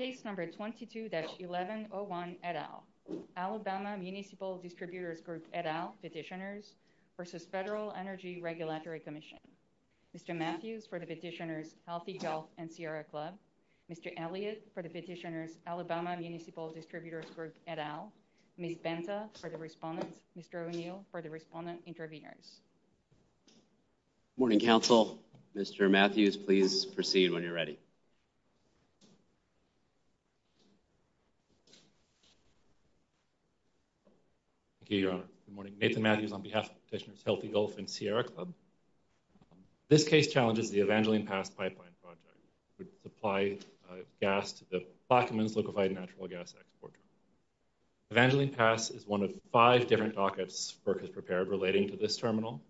Case number 22-1101 et al. Alabama Municipal Distributors Group et al petitioners versus Federal Energy Regulatory Commission. Mr. Matthews for the petitioners Healthy Health and Sierra Club. Mr. Elliott for the petitioners Alabama Municipal Distributors Group et al. Ms. Benta for the respondents. Mr. O'Neill for the respondent interveners. Good morning, Council. Mr. Matthews, please proceed when you're ready. Thank you, Your Honor. Good morning. Nathan Matthews on behalf of the petitioners Healthy Health and Sierra Club. This case challenges the Evangeline Pass Pipeline Project, which supplies gas to the Flockman's Liquefied Natural Gas Export. Evangeline Pass is one of five different FERC has prepared relating to this terminal.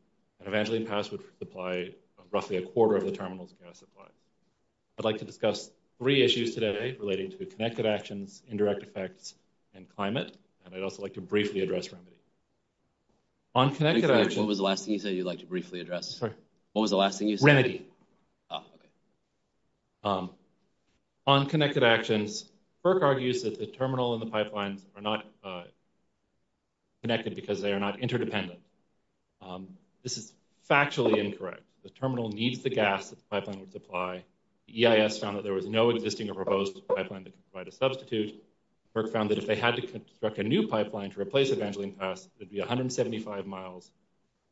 Evangeline Pass would supply roughly a quarter of the terminal's gas supply. I'd like to discuss three issues today relating to connected actions, indirect effects, and climate, and I'd also like to briefly address remedy. On connected actions... What was the last thing you said you'd like to briefly address? What was the last thing you said? Remedy. On connected actions, FERC argues that the terminal and the pipeline are not connected because they are not interdependent. This is factually incorrect. The terminal needs the gas that the pipeline would supply. The EIS found that there was no existing or proposed pipeline that could provide a substitute. FERC found that if they had to construct a new pipeline to replace Evangeline Pass, it would be 175 miles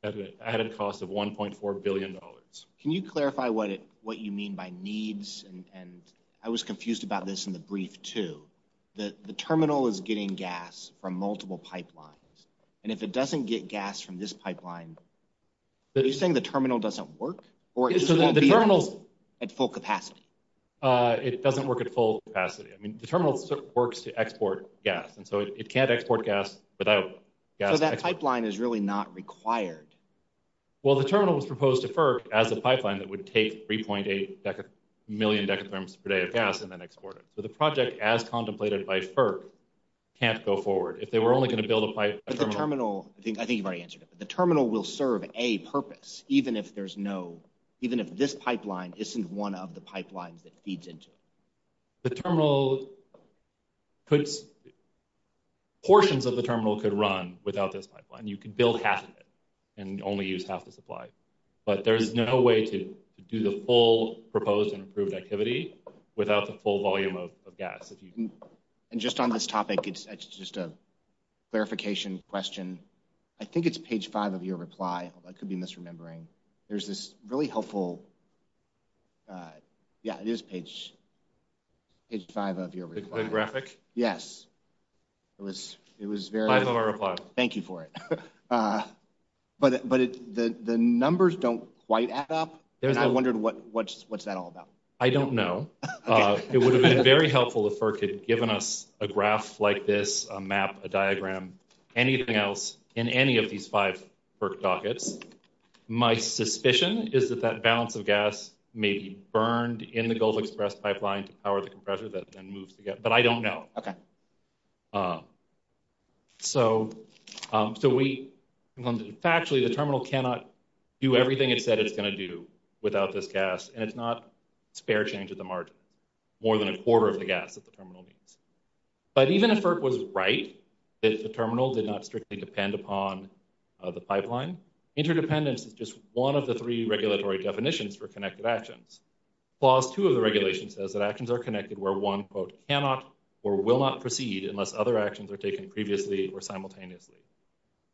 at an added cost of $1.4 billion. Can you clarify what you mean by needs? I was confused about this in the brief too. The terminal is getting gas from multiple pipelines, and if it doesn't get gas from this pipeline, are you saying the terminal doesn't work? Or it doesn't work at full capacity? It doesn't work at full capacity. I mean, the terminal works to export gas, and so it can't export gas without... So that pipeline is really not required? Well, the terminal was proposed to FERC as a pipeline that would take 3.8 million per day of gas and then export it. So the project, as contemplated by FERC, can't go forward. If they were only going to build a pipeline... But the terminal... I think you've already answered it. The terminal will serve a purpose, even if there's no... Even if this pipeline isn't one of the pipelines it feeds into. The terminal could... Portions of the terminal could run without this pipeline. You could build half of it and only use half the supply. But there is no way to do the full proposed and without the full volume of gas, if you can... And just on this topic, it's just a clarification question. I think it's page 5 of your reply. I could be misremembering. There's this really helpful... Yeah, it is page 5 of your reply. The graphic? Yes. It was very... Find them a reply. Thank you for it. But the numbers don't quite add up, and I wondered what's that all about? I don't know. It would have been very helpful if FERC had given us a graph like this, a map, a diagram, anything else in any of these five FERC dockets. My suspicion is that that balance of gas may be burned in the Gulf Express pipeline to power the compressor that then moves to get... But I don't know. Okay. So we... Factually, the terminal cannot do everything it said it's going to do without this gas, and it's not a spare change of the margin, more than a quarter of the gas that the terminal needs. But even if FERC was right that the terminal did not strictly depend upon the pipeline, interdependence is just one of the three regulatory definitions for connected actions. Clause 2 of the regulation says that actions are connected where one, quote, cannot or will not proceed unless other actions are taken previously or simultaneously.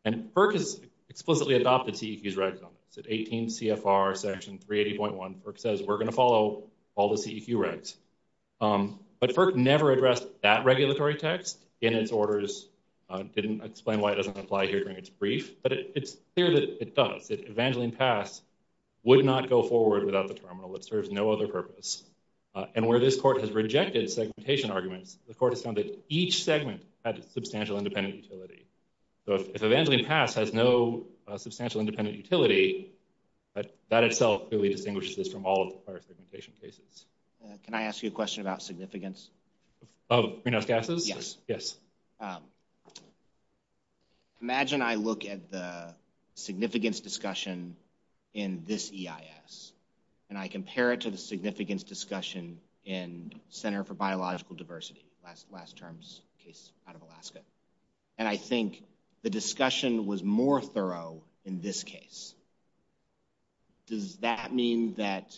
And FERC has explicitly adopted CEQ's rights on this. At 18 CFR section 380.1, FERC says we're going to follow all the CEQ rights. But FERC never addressed that regulatory text in its orders. I didn't explain why it doesn't apply here during its brief, but it's clear that it does. If Evangeline passed, it would not go forward without the terminal. It serves no other purpose. And where this court has rejected segmentation arguments, the court has found each segment has substantial independent utility. So if Evangeline Pass has no substantial independent utility, that itself clearly distinguishes from all of the prior segmentation cases. Can I ask you a question about significance? Of greenhouse gases? Yes. Yes. Imagine I look at the significance discussion in this EIS, and I compare it to the significance discussion in Center for Biological Diversity, last term's case out of Alaska. And I think the discussion was more thorough in this case. Does that mean that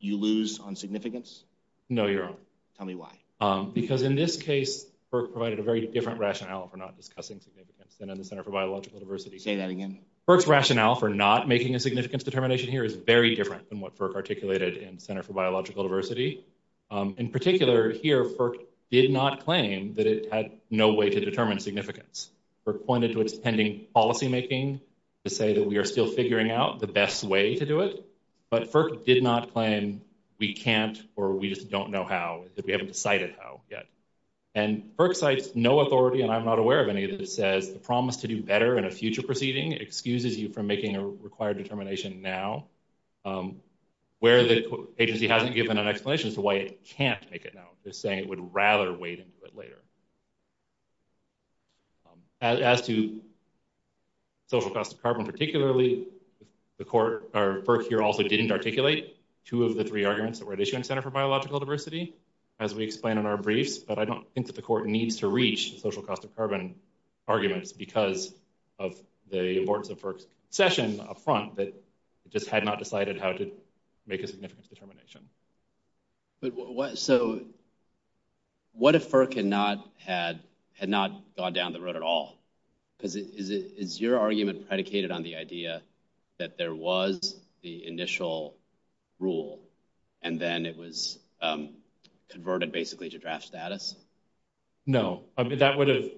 you lose on significance? No, you don't. Tell me why. Because in this case, FERC provided a very different rationale for not discussing significance than in the Center for Biological Diversity. Say that again. FERC's rationale for not making a significance determination here is very different than what FERC articulated in Center for Biological Diversity. In particular here, FERC did not claim that it had no way to determine significance. FERC pointed to its pending policymaking to say that we are still figuring out the best way to do it. But FERC did not claim we can't or we just don't know how. We haven't decided how yet. And FERC cites no authority, and I'm not aware of any, that says the promise to do better in a now, where the agency hasn't given an explanation to why it can't make it now, just saying it would rather wait until later. As to social cost of carbon particularly, the court, or FERC here also didn't articulate two of the three arguments that were at issue in Center for Biological Diversity, as we explained in our briefs. But I don't think that the court needs to reach social cost of carbon arguments because of the importance of FERC's concession up front that just had not decided how to make a significance determination. So what if FERC had not gone down the road at all? Is your argument predicated on the idea that there was the initial rule and then it was converted basically to draft status? No. That would have,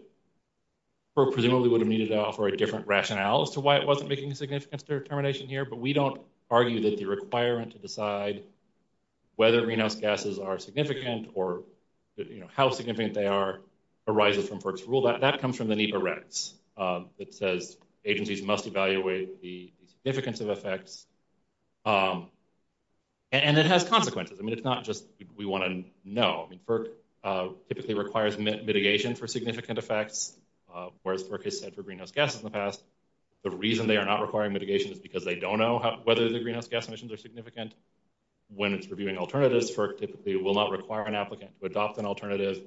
or presumably would have needed to offer a different rationale as to why it wasn't making a significance determination here. But we don't argue that the requirement to decide whether greenhouse gases are significant or how significant they are arises from FERC's rule. That comes from the NEPA recs. It says agencies must evaluate the significance of effects. And it has consequences. I mean, it's not just we want to know. FERC typically requires mitigation for significant effects. Whereas FERC has said for greenhouse gases in the past, the reason they are not requiring mitigation is because they don't know whether the greenhouse gas emissions are significant. When it's reviewing alternatives, FERC typically will not require an applicant to adopt an alternative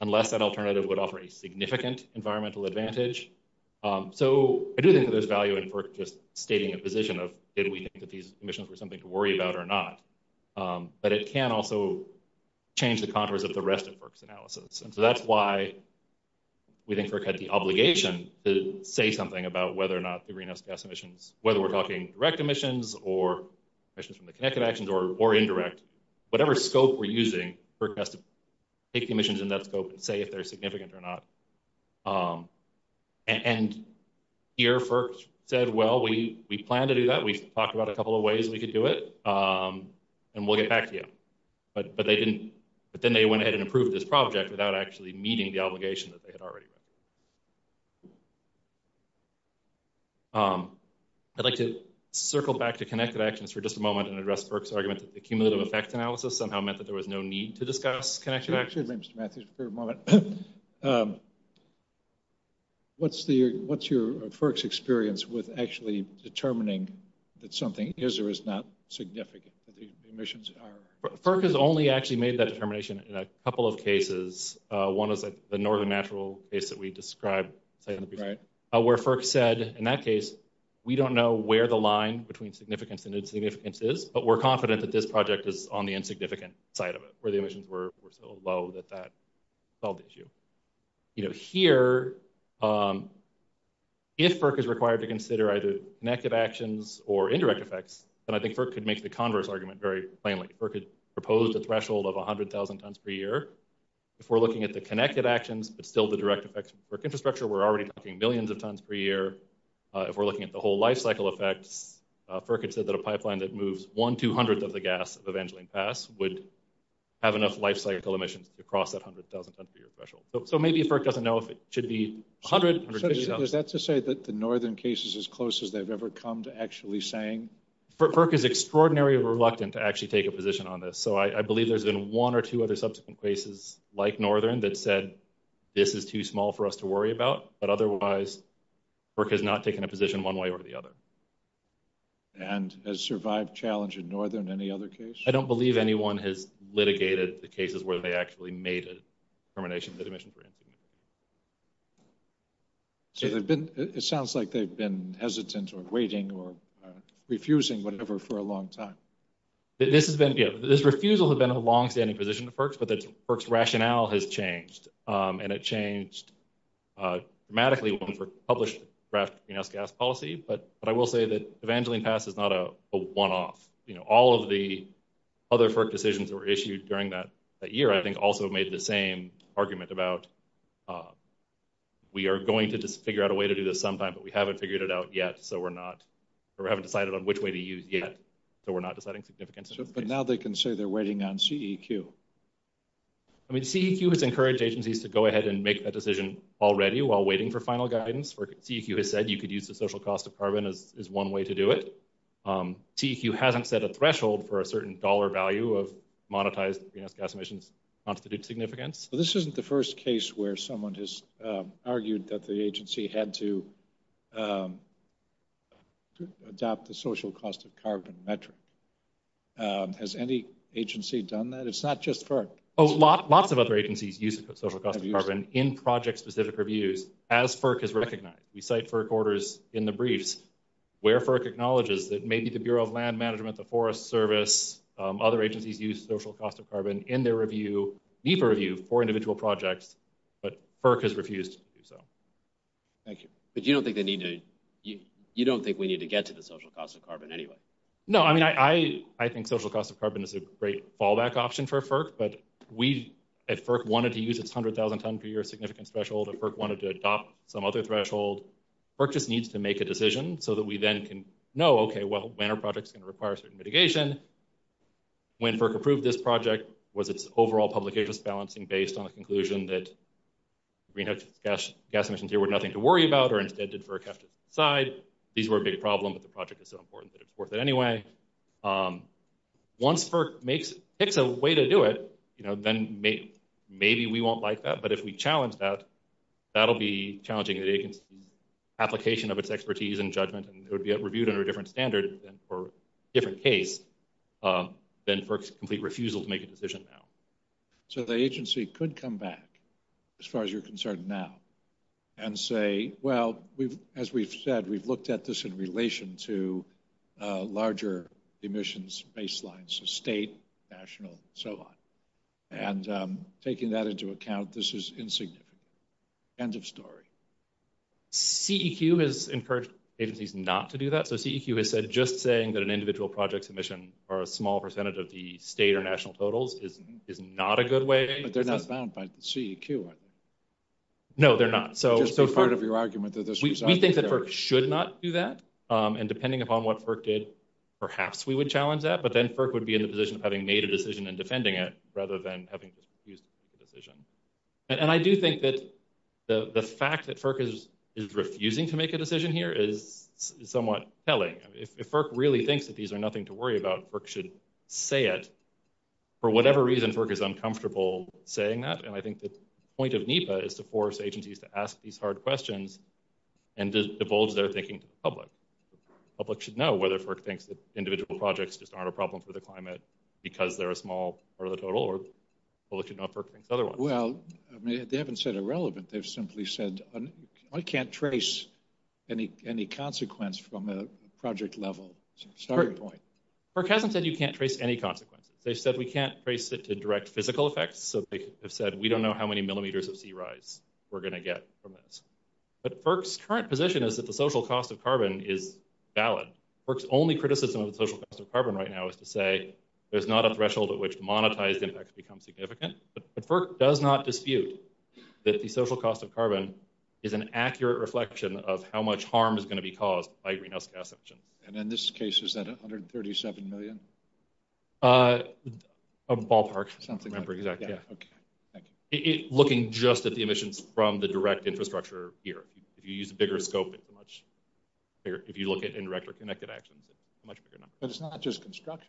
unless that alternative would offer a significant environmental advantage. So I do think there's value in FERC just stating a position of did we think that these emissions were something to worry about or not. But it can also change the contours of the rest of FERC's analysis. And so that's why we think FERC had the obligation to say something about whether or not the greenhouse gas emissions, whether we're talking direct emissions or emissions from the connected actions or indirect, whatever scope we're using, FERC has to take emissions in that scope and say if they're significant or not. And here FERC said, well, we plan to do that. We've talked about a couple of ways we could do it. And we'll get back to you. But then they went ahead and approved this project without actually meeting the obligation that they had already met. I'd like to circle back to connected actions for just a moment and address FERC's argument that the cumulative effect analysis somehow meant that there was no need to discuss connected actions. Excuse me, Mr. Matthews, for a moment. What's your FERC's experience with actually determining that something is or is not significant, that the emissions are? FERC has only actually made that determination in a couple of cases. One is the northern natural case that we described where FERC said, in that case, we don't know where the line between significance and insignificance is, but we're confident that this project is on the insignificant side of it, where the emissions were so low that that solved the issue. Here, if FERC is required to consider either connected actions or indirect effects, then I think FERC could make the converse argument very plainly. FERC has proposed a threshold of 100,000 tons per year. If we're looking at the connected actions, but still the direct effects of FERC infrastructure, we're already talking millions of tons per year. If we're looking at the whole life cycle effects, FERC has said that a pipeline that moves one-two hundredth of the gas of Evangeline Pass would have enough life cycle emissions to cross that 100,000 tons per year threshold. Maybe FERC doesn't know if it should be 100,000. Is that to say that the northern case is as close as they've ever come to actually saying? FERC is extraordinarily reluctant to actually take a position on this. I believe there's been one or two other subsequent cases like northern that said, this is too small for us to worry about, but otherwise, FERC has not taken a position one way or the other. And has survived challenge in northern in any other case? I don't believe anyone has litigated the cases where they actually made a determination for emissions. So it sounds like they've been hesitant or waiting or refusing whatever for a long time. This has been, yes, this refusal has been a long-standing position of FERC, but that FERC's rationale has changed, and it changed dramatically when we published the draft greenhouse gas policy. But I will say that Evangeline Pass is not a one-off. All of the other FERC decisions that were issued during that year, I think, also made the same argument about we are going to just figure out a way to do this sometime, but we haven't figured it out yet, so we're not, or we haven't decided on which way to use yet, so we're not deciding significantly. Now they can say they're waiting on CEQ. I mean, CEQ has encouraged agencies to go ahead and make that decision already while waiting for final guidance, or CEQ has said you could use the social cost of carbon as one way to do it. CEQ hasn't set a threshold for a certain dollar value of monetized greenhouse gas emissions, not to the significance. This isn't the first case where someone has argued that the agency had to adopt the social cost of carbon metric. Has any agency done that? It's not just FERC. Lots of other agencies use the social cost of carbon in project-specific reviews, as FERC has recognized. We cite FERC orders in the briefs where FERC acknowledges that maybe the Bureau of Land Management, the Forest Service, other agencies use social cost of carbon in their review, NEPA review, for individual projects, but FERC has refused to do so. Thank you, but you don't think they need to, you don't think we need to get to the social cost of carbon anyway? No, I mean, I think social cost of carbon is a great fallback option for FERC, but we at FERC wanted to use its $100,000 per year significance threshold, and FERC wanted to adopt some other threshold. FERC just needs to make a decision so that we then can know, okay, well, when are projects going to require certain mitigation? When FERC approved this project, was its overall publications balancing based on the conclusion that greenhouse gas emissions here were nothing to worry about, or instead, did FERC have to decide? These were a big problem, but the project is so important that it's worth it anyway. Once FERC picks a way to do it, then maybe we won't like that, but if we challenge that, that'll be challenging the application of its expertise and judgment, and it would be reviewed under a different standard or different case than FERC's complete refusal to make a decision now. So the agency could come back as far as you're concerned now and say, well, as we've said, we've looked at this in relation to and taking that into account, this is insignificant. End of story. CEQ has encouraged agencies not to do that. So CEQ has said just saying that an individual project submission for a small percentage of the state or national totals is not a good way. But they're not bound by CEQ. No, they're not. So part of your argument that this... We think that FERC should not do that, and depending upon what FERC did, perhaps we would challenge that, but then FERC would be in a position of having made a decision and defending it rather than having refused to make a decision. And I do think that the fact that FERC is refusing to make a decision here is somewhat telling. If FERC really thinks that these are nothing to worry about, FERC should say it. For whatever reason, FERC is uncomfortable saying that, and I think the point of NEPA is to force agencies to ask these hard questions and just divulge their thinking to the public. The public should know whether FERC thinks that individual projects just aren't a problem for climate because they're a small part of the total, or public should know if FERC thinks otherwise. Well, they haven't said irrelevant. They've simply said, I can't trace any consequence from a project level. It's a starting point. FERC hasn't said you can't trace any consequence. They've said we can't trace it to direct physical effects, so they've said we don't know how many millimeters of sea rise we're going to get from this. But FERC's current position is that the social cost of carbon is valid. FERC's only criticism of the social cost of carbon right now is to say there's not a threshold at which monetized impacts become significant, but FERC does not dispute that the social cost of carbon is an accurate reflection of how much harm is going to be caused by greenhouse gas emissions. And in this case, is that $137 million? A ballpark, something like that, yeah. Okay, thank you. Looking just at the emissions from the direct infrastructure here. If you use a bigger scope, it's much clearer if you look at indirect or connected action. But it's not just construction?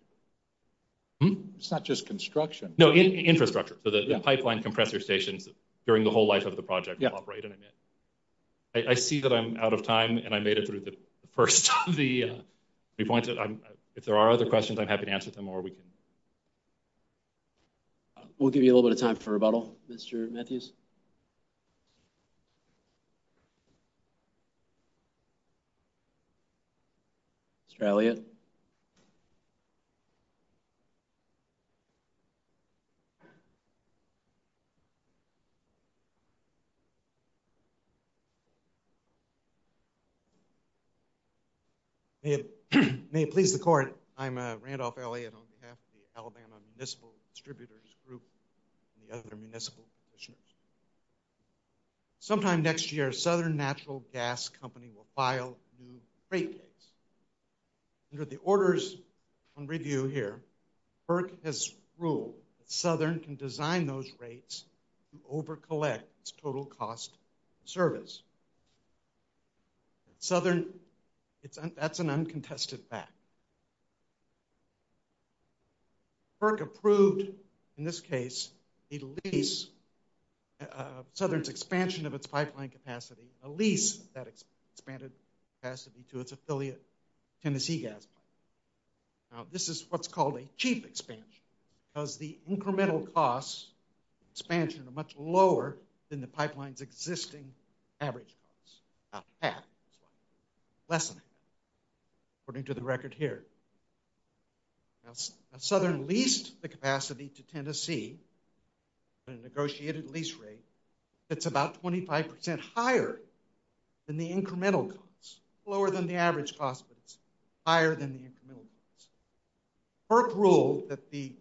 It's not just construction? No, infrastructure. The pipeline compressor stations during the whole life of the project operate in a min. I see that I'm out of time, and I made it through the first three points. If there are other questions, I'm happy to answer them, or we can... We'll give you a little bit of time for rebuttal, Mr. Mathews. Mr. Elliott? May it please the court, I'm Randolph Elliott on behalf of the Alabama Municipal Distributors Group and the other municipal commissioners. Sometime next year, Southern Natural Gas Company will file new rate rates. Under the orders on review here, FERC has ruled that Southern can design those rates to overcollect its total cost of service. Southern, that's an uncontested fact. FERC approved, in this case, a lease of Southern's expansion of its pipeline capacity, a lease of that expanded capacity to its affiliate, Tennessee Gas Company. Now, this is what's called a cheap expansion, because the incremental costs of expansion are much lower than the pipeline's existing average cost, not half, but less than that. According to the record here, as Southern leased the capacity to Tennessee at a negotiated lease rate, it's about 25% higher than the incremental cost. Lower than the average cost, but higher than the incremental cost. FERC ruled that the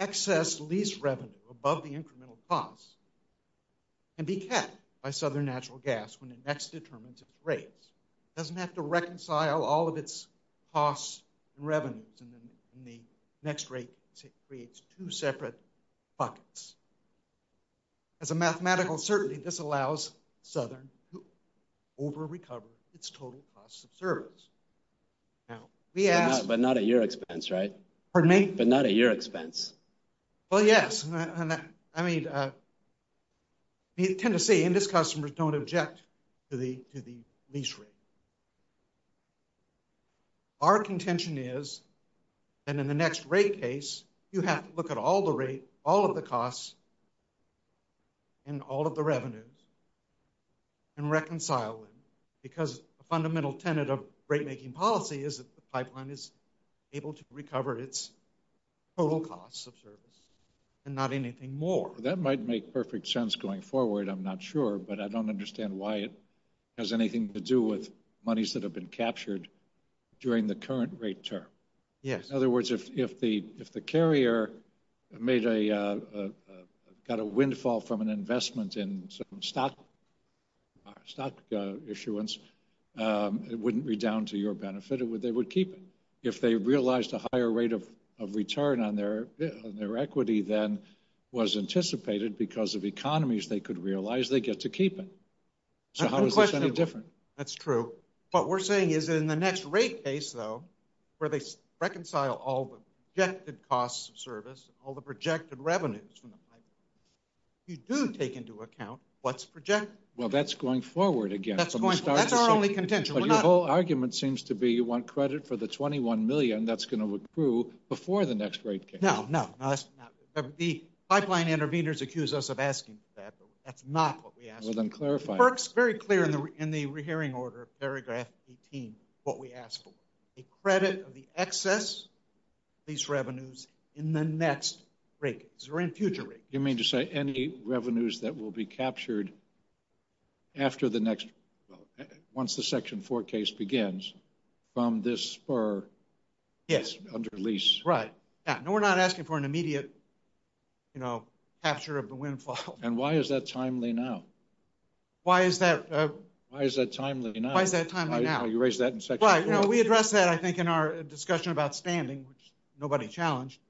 excess lease revenue above the incremental cost can be kept by Southern Natural Gas when it next determines its rates. It doesn't have to reconcile all of its costs and revenues, and then the next rate creates two separate buckets. As a mathematical certainty, this allows Southern to over-recover its total cost of service. Now, we ask... But not at your expense, right? Pardon me? But not at your expense. Well, yes. I mean, Tennessee and its customers don't object to the lease rate. Our contention is that in the next rate case, you have to look at all the rates, all of the costs, and all of the revenues, and reconcile them, because a fundamental tenet of rate is the cost of service, and not anything more. That might make perfect sense going forward. I'm not sure, but I don't understand why it has anything to do with monies that have been captured during the current rate term. Yes. In other words, if the carrier made a... Got a windfall from an investment in some stock issuance, it wouldn't be down to your benefit. They would keep it. If they realized a higher rate of return on their equity than was anticipated because of economies they could realize, they get to keep it. So how is this any different? That's true. What we're saying is in the next rate case, though, where they reconcile all the projected costs of service, all the projected revenues, you do take into account what's projected. Well, that's going forward again. That's our only contention. Your whole argument seems to be you want credit for the 21 million that's going to accrue before the next rate case. No, no. The pipeline intervenors accuse us of asking for that, but that's not what we ask. Well, then clarify. It works very clear in the re-hearing order, paragraph 18, what we ask for. A credit of the excess of these revenues in the next rate case, or in future rates. You mean to say any revenues that will be captured after the next... once the Section 4 case begins from this spur under lease? Right. Yeah. No, we're not asking for an immediate capture of the windfall. And why is that timely now? Why is that... Why is that timely now? Why is that timely now? You raised that in Section 4. No, we addressed that, I think, in our discussion about standing, which nobody challenged.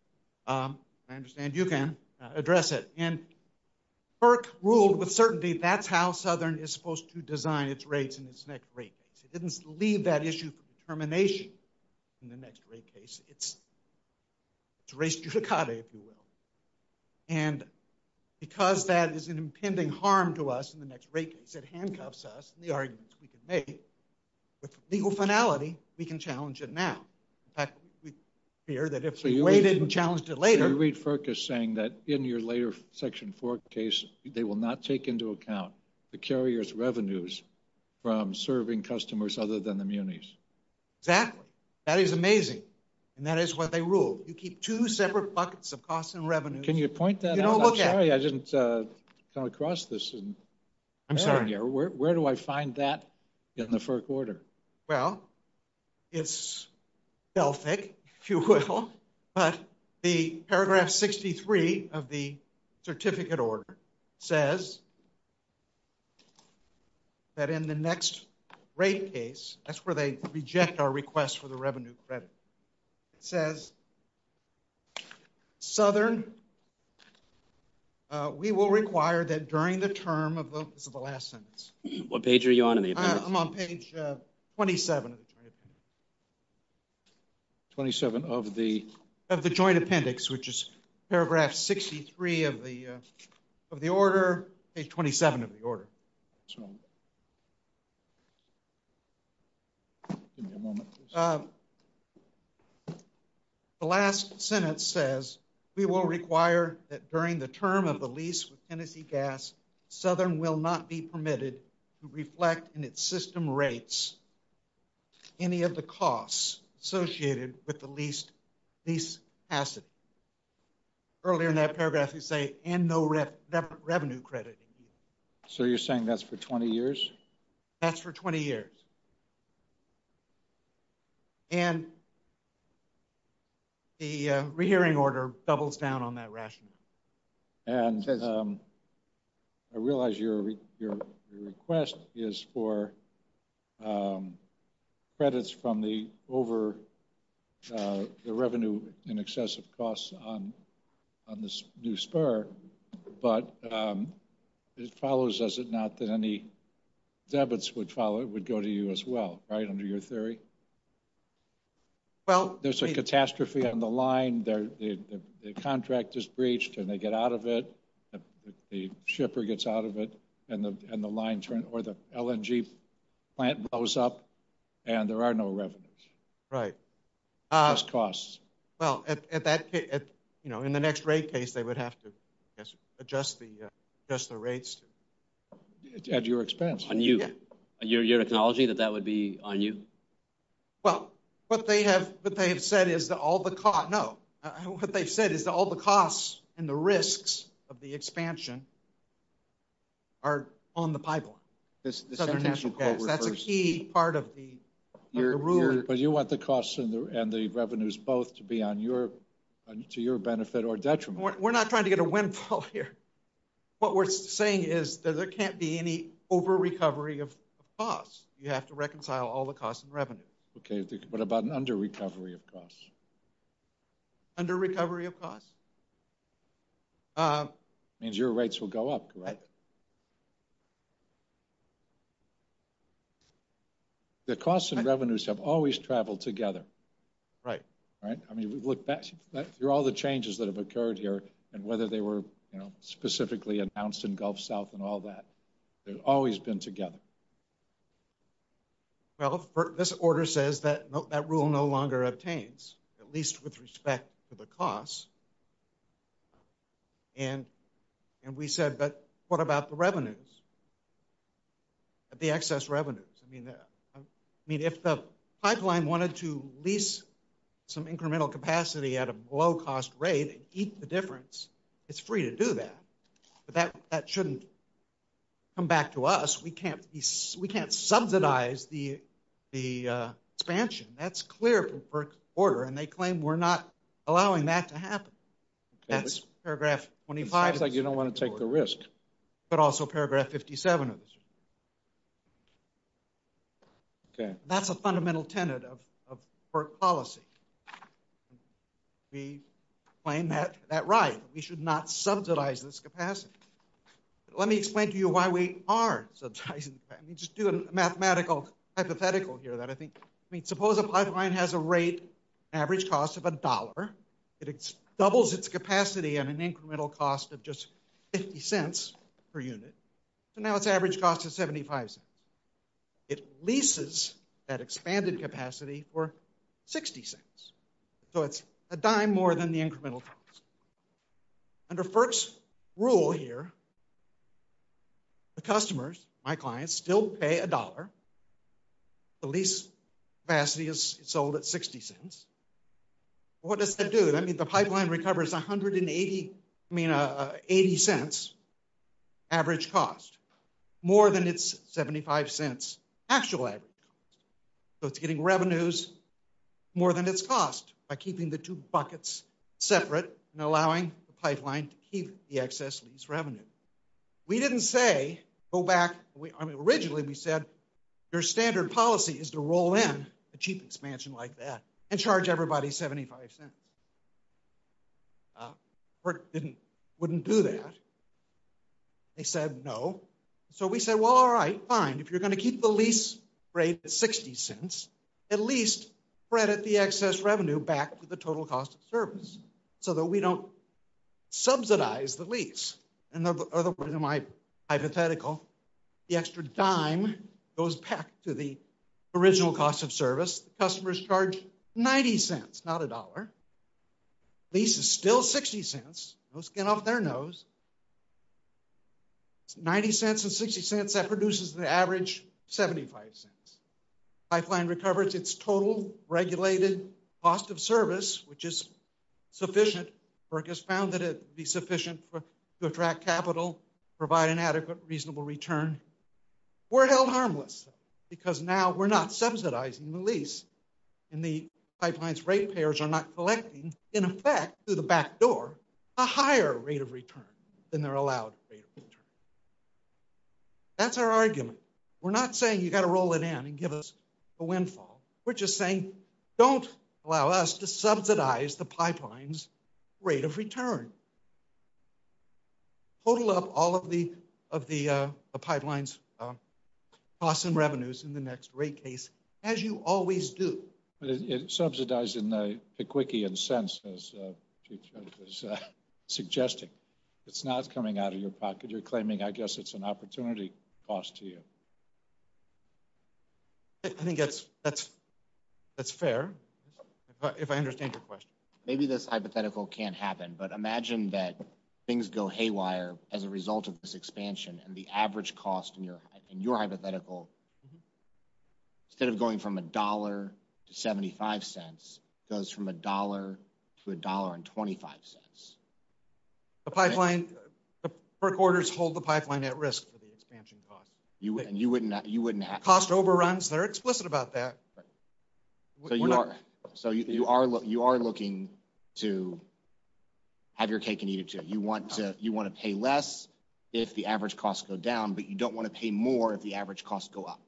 I understand you can address it. And FERC ruled with certainty that's how Southern is supposed to design its rates in its next rate case. It didn't leave that issue for determination in the next rate case. It's a race to Ducati, if you will. And because that is an impending harm to us in the next rate case, it handcuffs us from the arguments we can make. With legal finality, we can challenge it now. In fact, we fear that if we waited and challenged it later... We read FERC as saying that in your later Section 4 case, they will not take into account the carrier's revenues from serving customers other than the munis. Exactly. That is amazing. And that is what they ruled. You keep two separate buckets of costs and revenue. Can you point that out? I'm sorry I didn't come across this. I'm sorry. Where do I find that in the FERC order? Well, it's selfish, if you will. But the paragraph 63 of the certificate order says that in the next rate case, that's where they reject our request for the revenue credit. It says, Southern, we will require that during the term of the last sentence... What page are you on? I'm on page 27. 27 of the... Of the joint appendix, which is paragraph 63 of the order, page 27 of the order. The last sentence says, we will require that during the term of the lease with Tennessee to reflect in its system rates any of the costs associated with the lease asset. Earlier in that paragraph, you say, and no revenue credit. So you're saying that's for 20 years? That's for 20 years. And the rehearing order doubles down on that rationale. And I realize your request is for credits from the over the revenue in excessive costs on this new spur, but it follows, does it not, that any debits would follow, would go to you as well, right, under your theory? Well, there's a catastrophe on the line, the contract is breached, and they get out of it, the shipper gets out of it, and the line, or the LNG plant blows up, and there are no revenues. Right. Just costs. Well, at that case, you know, in the next rate case, they would have to adjust the rates. At your expense. On you, your technology, that that would be on you? Well, what they have, what they have said is that all the costs, no, what they said is that all the costs and the risks of the expansion are on the pipeline. That's a key part of the rule. But you want the costs and the revenues both to be on your, to your benefit or detriment. We're not trying to get a windfall here. What we're saying is that there can't be any over-recovery of costs. You have to reconcile all the costs and revenues. Okay, but about an under-recovery of costs? Under-recovery of costs. Means your rates will go up, correct? The costs and revenues have always traveled together. Right. Right? I mean, we look back through all the changes that have occurred here, and whether they were, you know, specifically announced in Gulf South and all that. They've always been together. Well, this order says that no, that rule no longer obtains, at least with respect to the costs. And, and we said, but what about the revenues? The excess revenues? I mean, I mean, if the pipeline wanted to lease some incremental capacity at a low-cost rate and eat the difference, it's free to do that. But that, that shouldn't come back to us. We can't, we can't subsidize the, the expansion. That's clear from PERC's order, and they claim we're not allowing that to happen. That's paragraph 25. I think you don't want to take the risk. But also paragraph 57. Okay. That's a fundamental tenet of, of PERC policy. We claim that, that right. We should not subsidize this capacity. Let me explain to you why we are subsidizing that. Let me just do a mathematical hypothetical here that I think, I mean, suppose a pipeline has a rate, average cost of a dollar. It doubles its capacity at an incremental cost of just 50 cents per unit. So now its average cost is 75 cents. It leases that expanded capacity for 60 cents. So it's a dime more than the incremental cost. Under PERC's rule here, the customers, my clients, still pay a dollar. The lease capacity is sold at 60 cents. What does that do? I mean, the pipeline recovers 180, I mean, 80 cents average cost. More than its 75 cents actual average cost. So it's getting revenues more than its cost by keeping the two buckets separate. Allowing the pipeline to keep the excess lease revenue. We didn't say, go back, I mean, originally we said, your standard policy is to roll in a cheap expansion like that and charge everybody 75 cents. PERC didn't, wouldn't do that. They said no. So we said, well, all right, fine. If you're going to keep the lease rate at 60 cents, at least credit the excess revenue back to the total cost of service. So that we don't subsidize the lease. And in my hypothetical, the extra dime goes back to the original cost of service. Customers charge 90 cents, not a dollar. Lease is still 60 cents. Those get off their nose. 90 cents and 60 cents, that produces the average 75 cents. Pipeline recovers its total regulated cost of service, which is sufficient. PERC has found that it would be sufficient to attract capital, provide an adequate, reasonable return. We're held harmless because now we're not subsidizing the lease. And the pipeline's rate payers are not collecting, in effect, through the back door, a higher rate of return than they're allowed. That's our argument. We're not saying you've got to roll it in and give us a windfall. We're just saying, don't allow us to subsidize the pipeline's rate of return. Total up all of the pipeline's costs and revenues in the next rate case, as you always do. It's subsidizing the quickie in a sense, as you're suggesting. It's not coming out of your pocket. You're claiming, I guess it's an opportunity cost to you. I think that's fair, if I understand your question. Maybe this hypothetical can't happen. But imagine that things go haywire as a result of this expansion, and the average cost in your hypothetical, instead of going from $1 to 75 cents, goes from $1 to $1.25. The pipeline, the PERC orders hold the pipeline at risk for the expansion cost. You wouldn't happen. Cost overruns, they're explicit about that. So you are looking to have your cake and eat it, too. You want to pay less if the average costs go down, but you don't want to pay more if the average costs go up.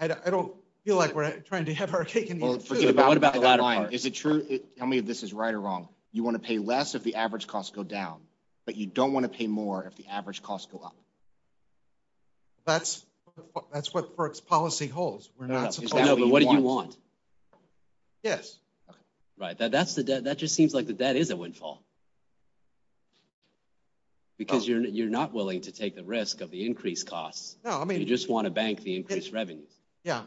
I don't feel like we're trying to have our cake and eat it, too. But what about the bottom line? Is it true? Tell me if this is right or wrong. You want to pay less if the average costs go down, but you don't want to pay more if the average costs go up. That's what PERC's policy holds. No, but what do you want? Yes. Right, that just seems like the debt is a windfall. Because you're not willing to take the risk of the increased costs. No, I mean- You just want to bank the increased revenue. Yeah,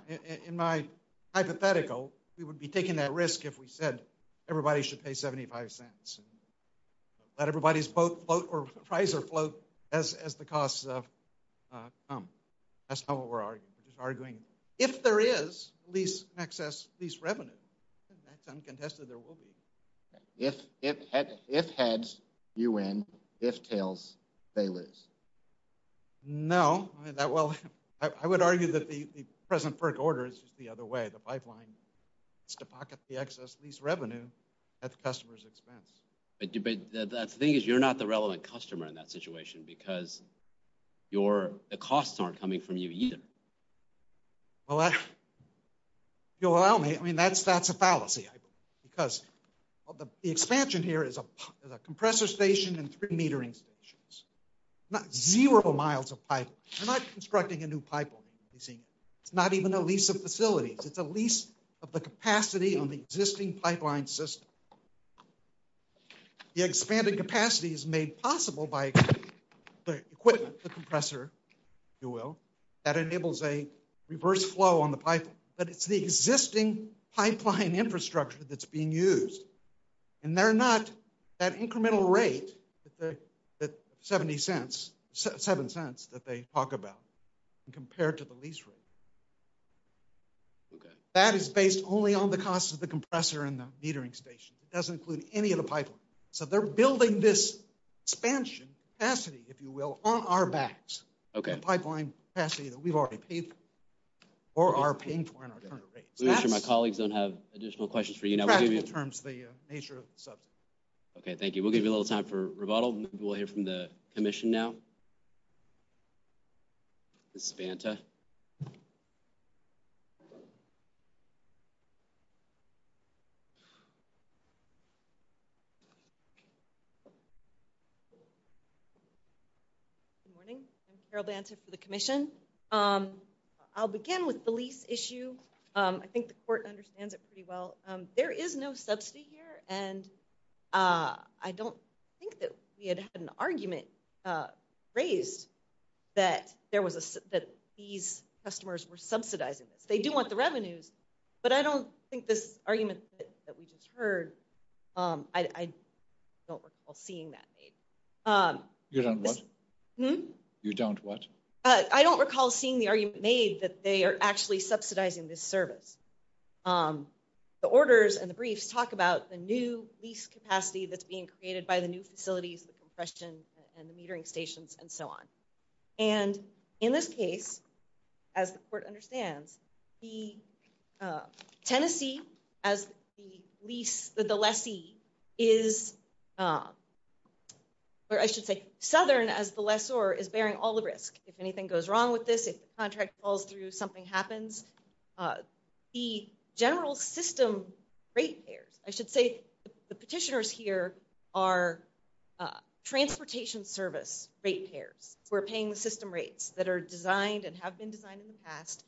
in my hypothetical, we would be taking that risk if we said everybody should pay 75 cents. Let everybody's float or Pfizer float as the costs come. That's not what we're arguing. We're arguing if there is lease excess lease revenue, uncontested there will be. If heads, you win. If tails, they lose. No, well, I would argue that the present PERC order is just the other way. The pipeline is to pocket the excess lease revenue at the customer's expense. The thing is, you're not the relevant customer in that situation because the costs aren't coming from you either. Well, if you'll allow me, I mean, that's a fallacy. Because the expansion here is a compressor station and three metering stations. Not zero miles of pipeline. We're not constructing a new pipeline, you see. It's not even a lease of facilities. It's a lease of the capacity of the existing pipeline system. The expanded capacity is made possible by the equipment, the compressor, if you will, that enables a reverse flow on the pipeline. But it's the existing pipeline infrastructure that's being used. And they're not that incremental rate that 70 cents, seven cents that they talk about compared to the lease rate. That is based only on the cost of the compressor and the metering station. It doesn't include any of the pipeline. So they're building this expansion capacity, if you will, on our backs. Okay. Pipeline capacity that we've already paid for, or are paying for in our current rate. Let me make sure my colleagues don't have additional questions for you. In fact, in terms of the nature of the subject. Okay, thank you. We'll give you a little time for rebuttal and then we'll hear from the commission now. Mrs. Vanta. Good morning. I'm Carol Vanta for the commission. I'll begin with the lease issue. I think the court understands it pretty well. There is no subsidy here. And I don't think that we had an argument raised that these customers were subsidizing it. They do want the revenue. But I don't think this argument that we just heard, I don't recall seeing that. You don't what? You don't what? I don't recall seeing the argument made that they are actually subsidizing this service. The orders and the briefs talk about the new lease capacity that's being created by the new facilities, the compressions and the metering stations and so on. And in this case, as the court understands, the Tennessee as the lease, the lessee is, or I should say southern as the lessor is bearing all the risk. If anything goes wrong with this, if the contract falls through, something happens. The general system rate payers, I should say the petitioners here are transportation service rate payers. We're paying the system rates that are designed and have been designed in the past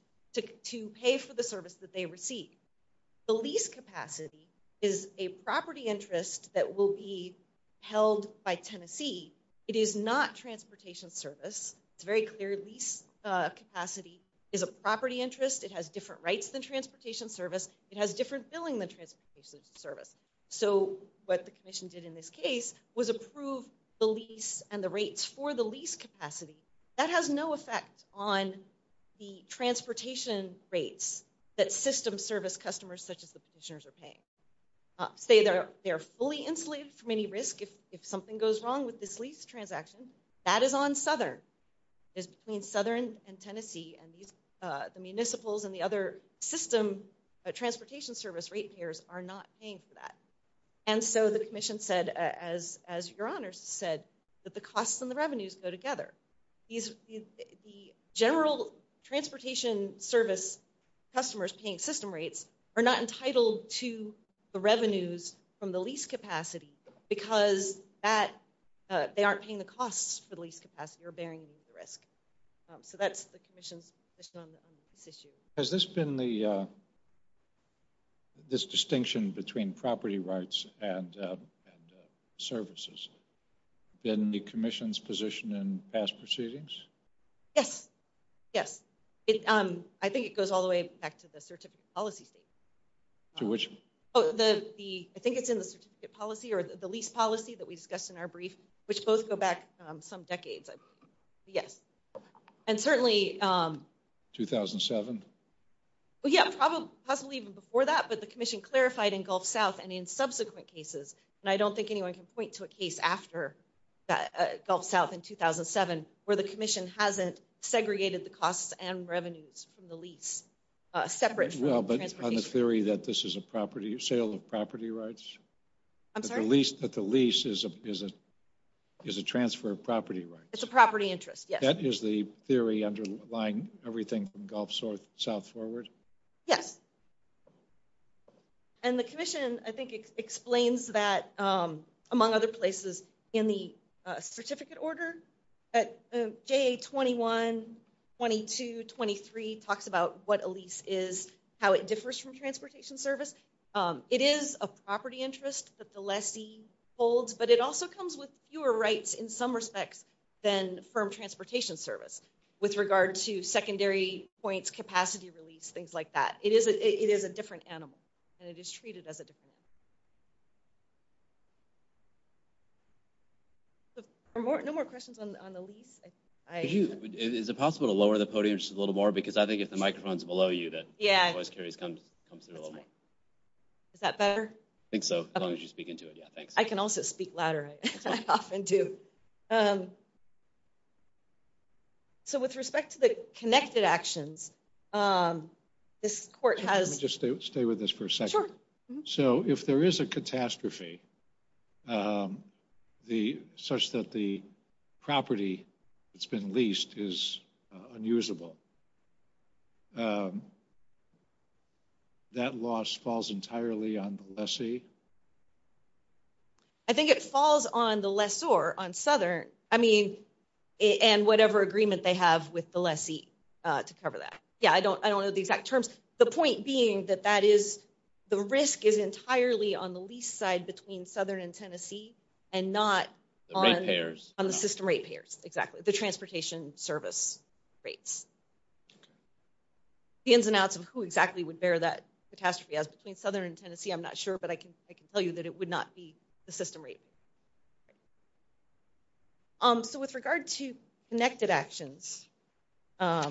to pay for the service that they receive. The lease capacity is a property interest that will be held by Tennessee. It is not transportation service. Very clear lease capacity is a property interest. It has different rights than transportation service. It has different billing than transportation service. So what the commission did in this case was approve the lease and the rates for the lease capacity. That has no effect on the transportation rates that system service customers such as the petitioners are paying. Say they're fully enslaved to mini-risk if something goes wrong with this lease transaction, that is on southern. It's between southern and Tennessee and the municipals and the other system transportation service rate payers are not paying for that. And so the commission said, as your honors said, that the costs and the revenues go together. The general transportation service customers paying system rates are not entitled to the revenues from the lease capacity because they aren't paying the costs for the lease capacity or bearing the risk. So that's the commission's position on this issue. Has this been the, this distinction between property rights and services in the commission's position in past proceedings? Yes. Yes. I think it goes all the way back to the certificate policy. To which? Oh, the, I think it's in the policy or the lease policy that we discussed in our brief, which both go back some decades. Yes. And certainly. 2007. Well, yeah, probably even before that, but the commission clarified in Gulf South and in subsequent cases. And I don't think anyone can point to a case after that Gulf South in 2007, where the commission hasn't segregated the costs and revenues from the lease. Separate. On the theory that this is a property sale of property rights. I'm sorry? That the lease is a transfer of property rights. It's a property interest, yes. That is the theory underlying everything from Gulf South forward? Yes. And the commission, I think, explains that among other places in the certificate order at JA 21, 22, 23 talks about what a lease is, how it differs from transportation service. It is a property interest that the lessee holds, but it also comes with fewer rights in some respects than from transportation service with regard to secondary points, capacity release, things like that. It is a different animal, and it is treated as a different animal. So no more questions on the lease? Is it possible to lower the podium just a little more? Because I think if the microphone's below you, that voice carries comes through a little more. Is that better? I think so, as long as you speak into it. Yeah, thanks. I can also speak louder. I often do. So with respect to the connected actions, this court has- Just stay with us for a second. So if there is a catastrophe such that the property that's been leased is unusable, that loss falls entirely on the lessee? I think it falls on the lessor, on Southern, and whatever agreement they have with the lessee to cover that. Yeah, I don't know the exact terms. The point being that the risk is entirely on the lease side between Southern and Tennessee and not on the system rate payers, exactly, the transportation service rates. The ins and outs of who exactly would bear that catastrophe as between Southern and Tennessee, I'm not sure, but I can speak to that. I can tell you that it would not be the system rate. So with regard to connected actions, I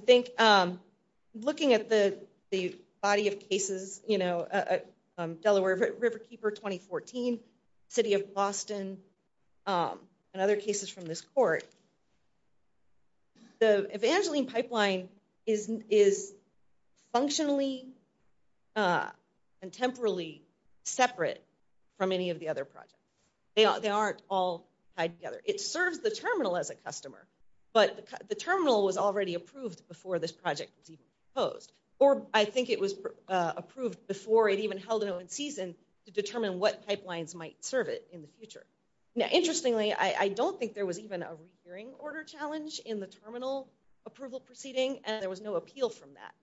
think looking at the body of cases, Delaware Riverkeeper 2014, City of Boston, and other cases from this court, the Evangeline pipeline is functionally and temporally separate from any of the other projects. They aren't all tied together. It serves the terminal as a customer, but the terminal was already approved before this project was proposed. Or I think it was approved before it even held its own season to determine what pipelines might serve it in the future. Now, interestingly, I don't think there was even a recurring order challenge in the terminal approval proceeding, and there was no appeal from that.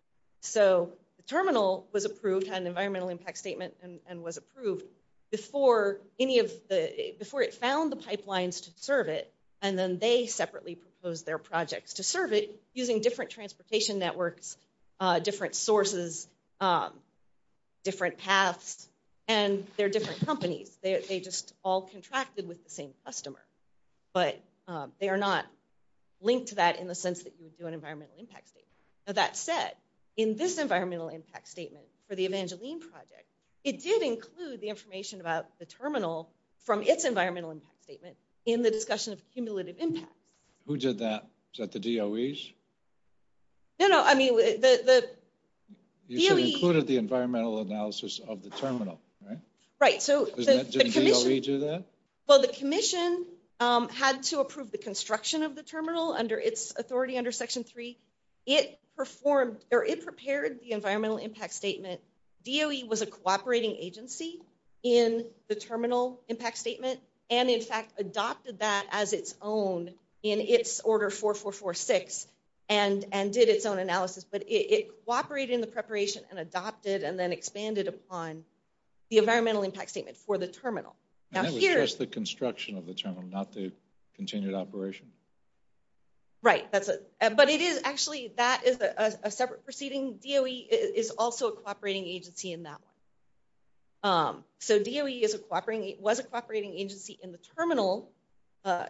So the terminal was approved on the environmental impact statement and was approved before it found the pipelines to serve it, and then they separately proposed their projects to serve it using different transportation networks, different sources, different tasks, and they're different companies. They just all contracted with the same customer. But they are not linked to that in the sense that you would do an environmental impact statement. Now, that said, in this environmental impact statement for the Evangeline project, it did include the information about the terminal from its environmental impact statement in the discussion of cumulative impact. Who did that? Was that the DOEs? No, no. I mean, the DOEs... You included the environmental analysis of the terminal, right? Right. Didn't DOE do that? Well, the commission had to approve the construction of the terminal under its authority under Section 3. It prepared the environmental impact statement. DOE was a cooperating agency in the terminal impact statement and, in fact, adopted that as its own in its order 4446 and did its own analysis, but it cooperated in the preparation and adopted and then expanded upon the environmental impact statement for the terminal. And that was just the construction of the terminal, not the continued operation? Right. That's it. But it is actually... That is a separate proceeding. DOE is also a cooperating agency in that one. So DOE was a cooperating agency in the terminal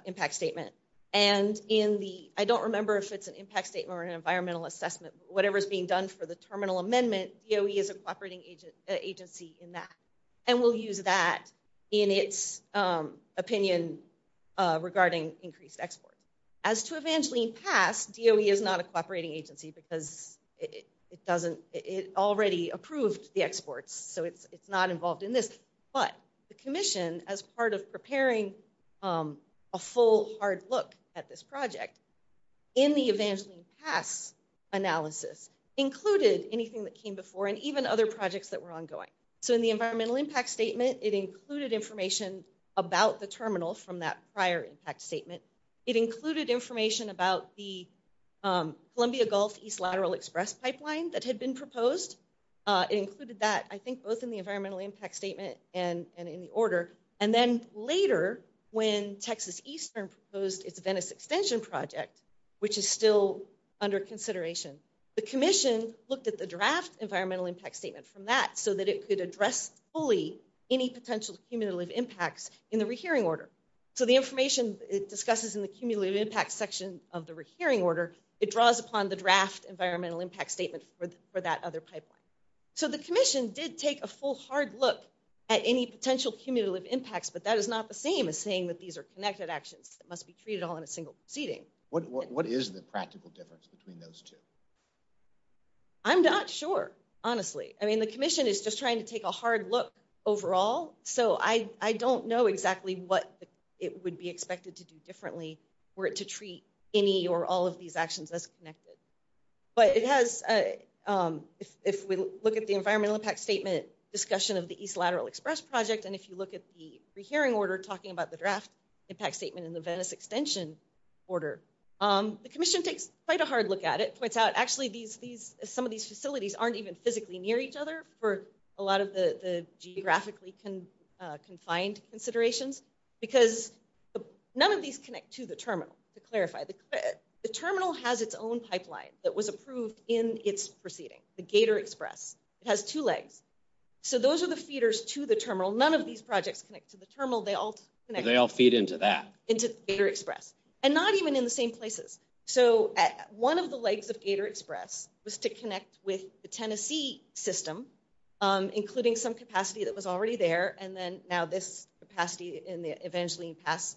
impact statement and in the... I don't remember if it's an impact statement or an environmental assessment. Whatever is being done for the terminal amendment, DOE is a cooperating agency in that. And we'll use that in its opinion regarding increased exports. As to Evangeline Pass, DOE is not a cooperating agency because it already approved the exports, so it's not involved in this. But the commission, as part of preparing a full hard look at this project, in the Evangeline Pass analysis, included anything that came before and even other projects that were ongoing. So in the environmental impact statement, it included information about the terminals from that prior impact statement. It included information about the Columbia Gulf East Lateral Express Pipeline that had been proposed. It included that, I think, both in the environmental impact statement and in the order. And then later, when Texas Eastern proposed its Venice Extension Project, which is still under consideration, the commission looked at the draft environmental impact statement from that so that it could address fully any potential cumulative impacts in the rehearing order. So the information it discusses in the cumulative impact section of the rehearing order, it draws upon the draft environmental impact statement for that other pipeline. So the commission did take a full hard look at any potential cumulative impacts, but that is not the same as saying that these are connected actions that must be treated on a single proceeding. What is the practical difference between those two? I'm not sure, honestly. I mean, the commission is just trying to take a hard look overall, so I don't know exactly what it would be expected to do differently were it to treat any or all of these actions as connected. But if we look at the environmental impact statement discussion of the East Lateral Express Project, and if you look at the rehearing order talking about the draft impact statement in the Venice Extension order, the commission takes quite a hard look at it, points out actually some of these facilities aren't even physically near each other for a lot of the geographically confined considerations, because none of these connect to the terminal. To clarify, the terminal has its own pipeline that was approved in its proceeding, the Gator Express. It has two legs. So those are the feeders to the terminal. None of these projects connect to the terminal. They all feed into that, into Gator Express, and not even in the same places. So one of the legs of Gator Express was to connect with the Tennessee system, including some capacity that was already there, and then now this capacity in the Evangeline Pass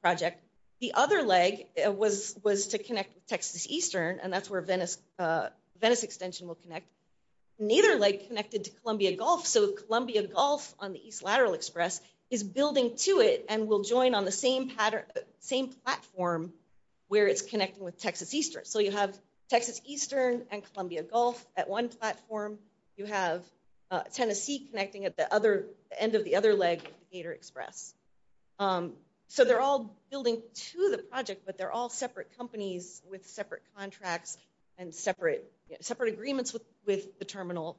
Project. The other leg was to connect with Texas Eastern, and that's where Venice Extension will connect. The Gator leg connected to Columbia Gulf, so Columbia Gulf on the East Lateral Express is building to it and will join on the same platform where it's connecting with Texas Eastern. So you have Texas Eastern and Columbia Gulf at one platform. You have Tennessee connecting at the end of the other leg, Gator Express. So they're all building to the project, but they're all separate companies with separate contracts and separate agreements with the terminal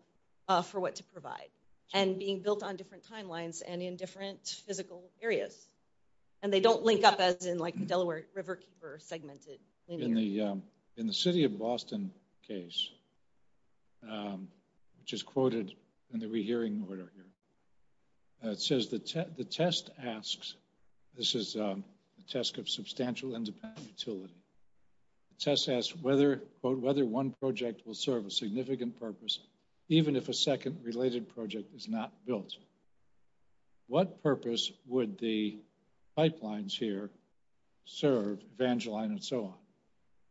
for what to provide, and being built on different timelines and in different physical areas. And they don't link up as in like the Delaware River segmented. In the City of Boston case, which is quoted in the rehearing order here, it says, the test asks, this is a test of substantial independent utility, the test asks, quote, whether one project will serve a significant purpose even if a second related project is not built. What purpose would the pipelines here serve, Evangeline and so on,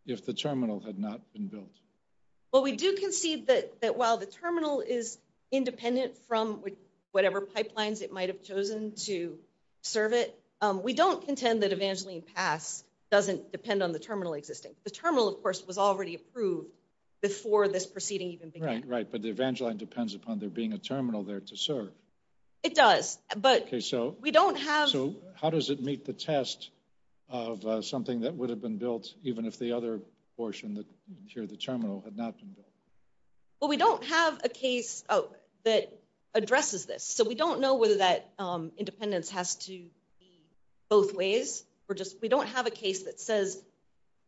if the terminal had not been built? Well, we do concede that while the terminal is independent from whatever pipelines it serve it, we don't contend that Evangeline Pass doesn't depend on the terminal existence. The terminal, of course, was already approved before this proceeding even began. Right, but the Evangeline depends upon there being a terminal there to serve. It does, but we don't have... So how does it meet the test of something that would have been built even if the other portion, the terminal, had not been built? Well, we don't have a case that addresses this. We don't know whether that independence has to be both ways. We don't have a case that says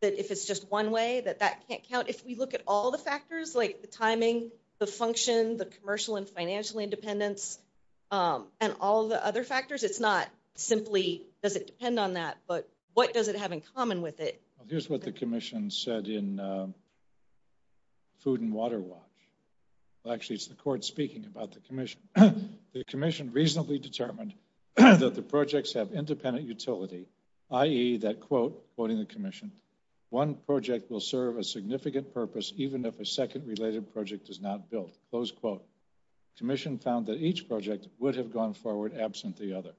that if it's just one way, that that can't count. If we look at all the factors, like the timing, the function, the commercial and financial independence, and all the other factors, it's not simply does it depend on that, but what does it have in common with it? Here's what the commission said in Food and Water Watch. Actually, it's the court speaking about the commission. The commission reasonably determined that the projects have independent utility, i.e., that, quote, quoting the commission, one project will serve a significant purpose even if a second related project is not built. Close quote. Commission found that each project would have gone forward absent the other.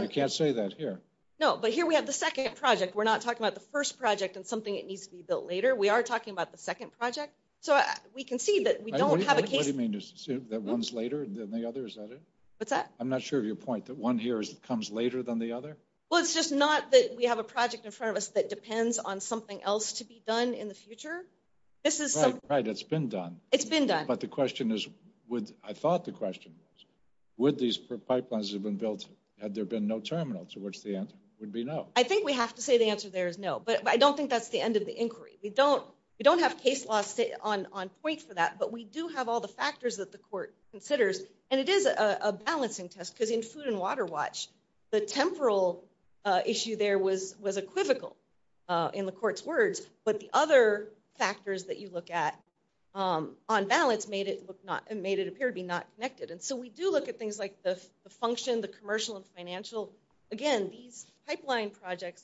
You can't say that here. No, but here we have the second project. We're not talking about the first project and something that needs to be built later. We are talking about the second project. So we can see that we don't have a case. What do you mean, that one's later than the other? Is that it? What's that? I'm not sure of your point, that one here comes later than the other? Well, it's just not that we have a project in front of us that depends on something else to be done in the future. This is something. Right, it's been done. It's been done. But the question is, I thought the question was, would these pipelines have been built had there been no terminal, to which the answer would be no. I think we have to say the answer there is no, but I don't think that's the end of the inquiry. We don't have case law on point for that, but we do have all the factors that the court considers. And it is a balancing test, because in food and water watch, the temporal issue there was equivocal in the court's words, but the other factors that you look at on balance made it appear to be not connected. And so we do look at things like the function, the commercial and financial. Again, these pipeline projects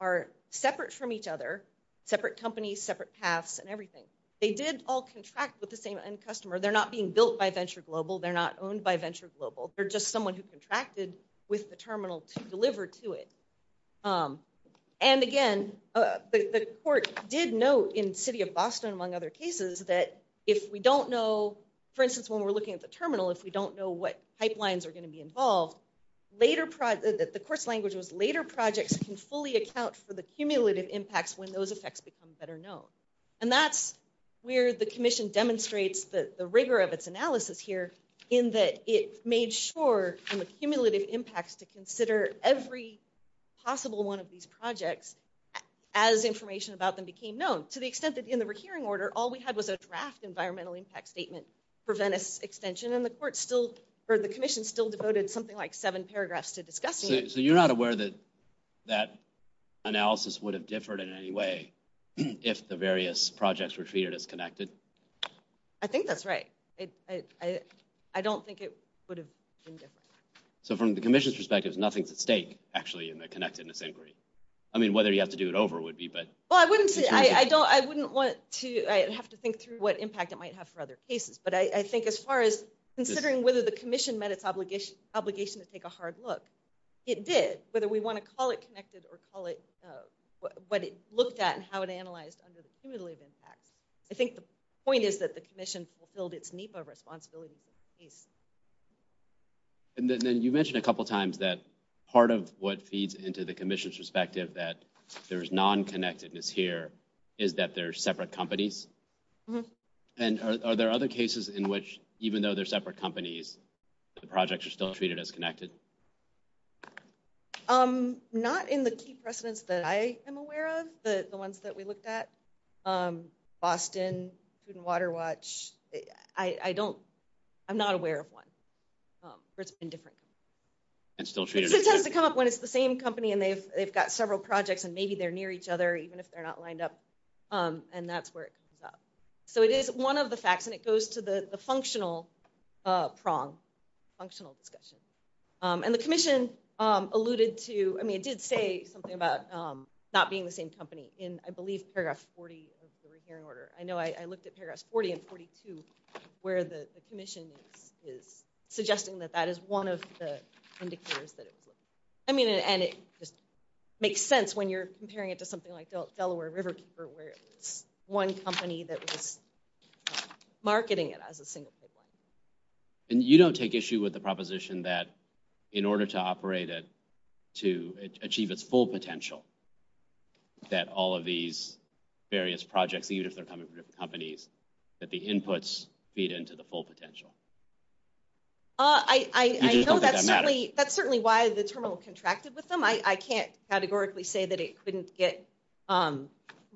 are separate from each other, separate companies, separate paths, and everything. They did all contract with the same end customer. They're not being built by Venture Global. They're not owned by Venture Global. They're just someone who contracted with the terminal to deliver to it. And again, the court did note in the city of Boston, among other cases, that if we don't know, for instance, when we're looking at the terminal, if we don't know what pipelines are going to be involved, the court's language was later projects can fully account for the cumulative impacts when those effects become better known. And that's where the commission demonstrates the rigor of its analysis here, in that it made sure from the cumulative impacts to consider every possible one of these projects as information about them became known, to the extent that in the recurring order, all we had was a draft environmental impact statement for Venice extension. And the commission still devoted something like seven paragraphs to discussing it. So you're not aware that that analysis would have differed in any way if the various projects were treated as connected? I think that's right. I don't think it would have been different. So from the commission's perspective, there's nothing at stake, actually, in the connectedness inquiry. I mean, whether you have to do it over would be, but... Well, I wouldn't want to have to think through what impact it might have for other cases. But I think as far as considering whether the commission met its obligation to take a hard look, it did, whether we want to call it connected or call it what it looked at and how it analyzed under the cumulative impact. I think the point is that the commission fulfilled its NEPA responsibility. And then you mentioned a couple of times that part of what feeds into the commission's perspective that there's non-connectedness here is that they're separate companies. Mm-hmm. And are there other cases in which, even though they're separate companies, the projects are still treated as connected? Not in the key precedents that I am aware of, the ones that we looked at. Boston, Food and Water Watch, I don't... I'm not aware of one in different... And still treated as connected. It tends to come up when it's the same company and they've got several projects and maybe they're near each other, even if they're not lined up. And that's where it comes up. So it is one of the facts. And it goes to the functional prong, functional discussion. And the commission alluded to... I mean, it did say something about not being the same company in, I believe, paragraph 40 of the requiring order. I know I looked at paragraphs 40 and 42 where the commission is suggesting that that is one of the indicators that it was. I mean, and it just makes sense when you're comparing it to something like Delaware River where it's one company that was marketing it as a single big one. And you don't take issue with the proposition that in order to operate it to achieve its full potential, that all of these various project leaders are coming from different companies, that the inputs feed into the full potential? I know that's certainly why the terminal contracted with them. I can't categorically say that it couldn't get the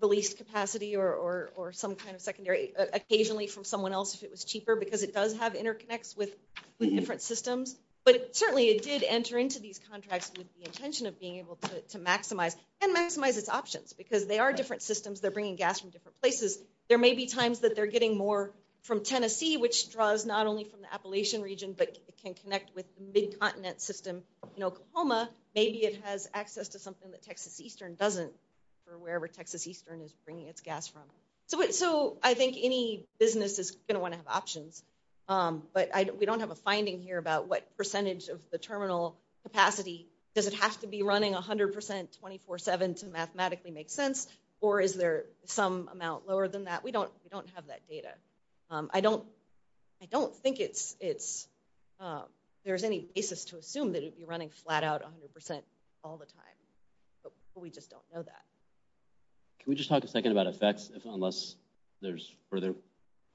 least capacity or some kind of secondary occasionally from someone else if it was cheaper because it does have interconnects with different systems. But certainly, it did enter into these contracts with the intention of being able to maximize and maximize its options because they are different systems. They're bringing gas from different places. There may be times that they're getting more from Tennessee, which draws not only from the Appalachian region, but it can connect with the mid-continent system in Oklahoma. Maybe it has access to something that Texas Eastern doesn't or wherever Texas Eastern is bringing its gas from. So I think any business is going to want to have options. But we don't have a finding here about what percentage of the terminal capacity. Does it have to be running 100% 24-7 to mathematically make sense? Or is there some amount lower than that? We don't have that data. I don't think there's any basis to assume that it'd be running flat out 100% all the time. But we just don't know that. Can we just talk a second about effects unless there's further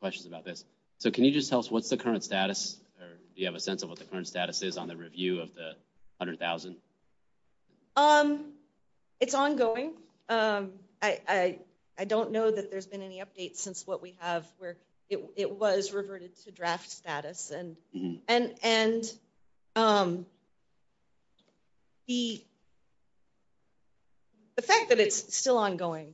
questions about this? So can you just tell us what's the current status or do you have a sense of what the current status is on the review of the 100,000? It's ongoing. I don't know that there's been any updates since what we have where it was reverted to draft status. And the fact that it's still ongoing,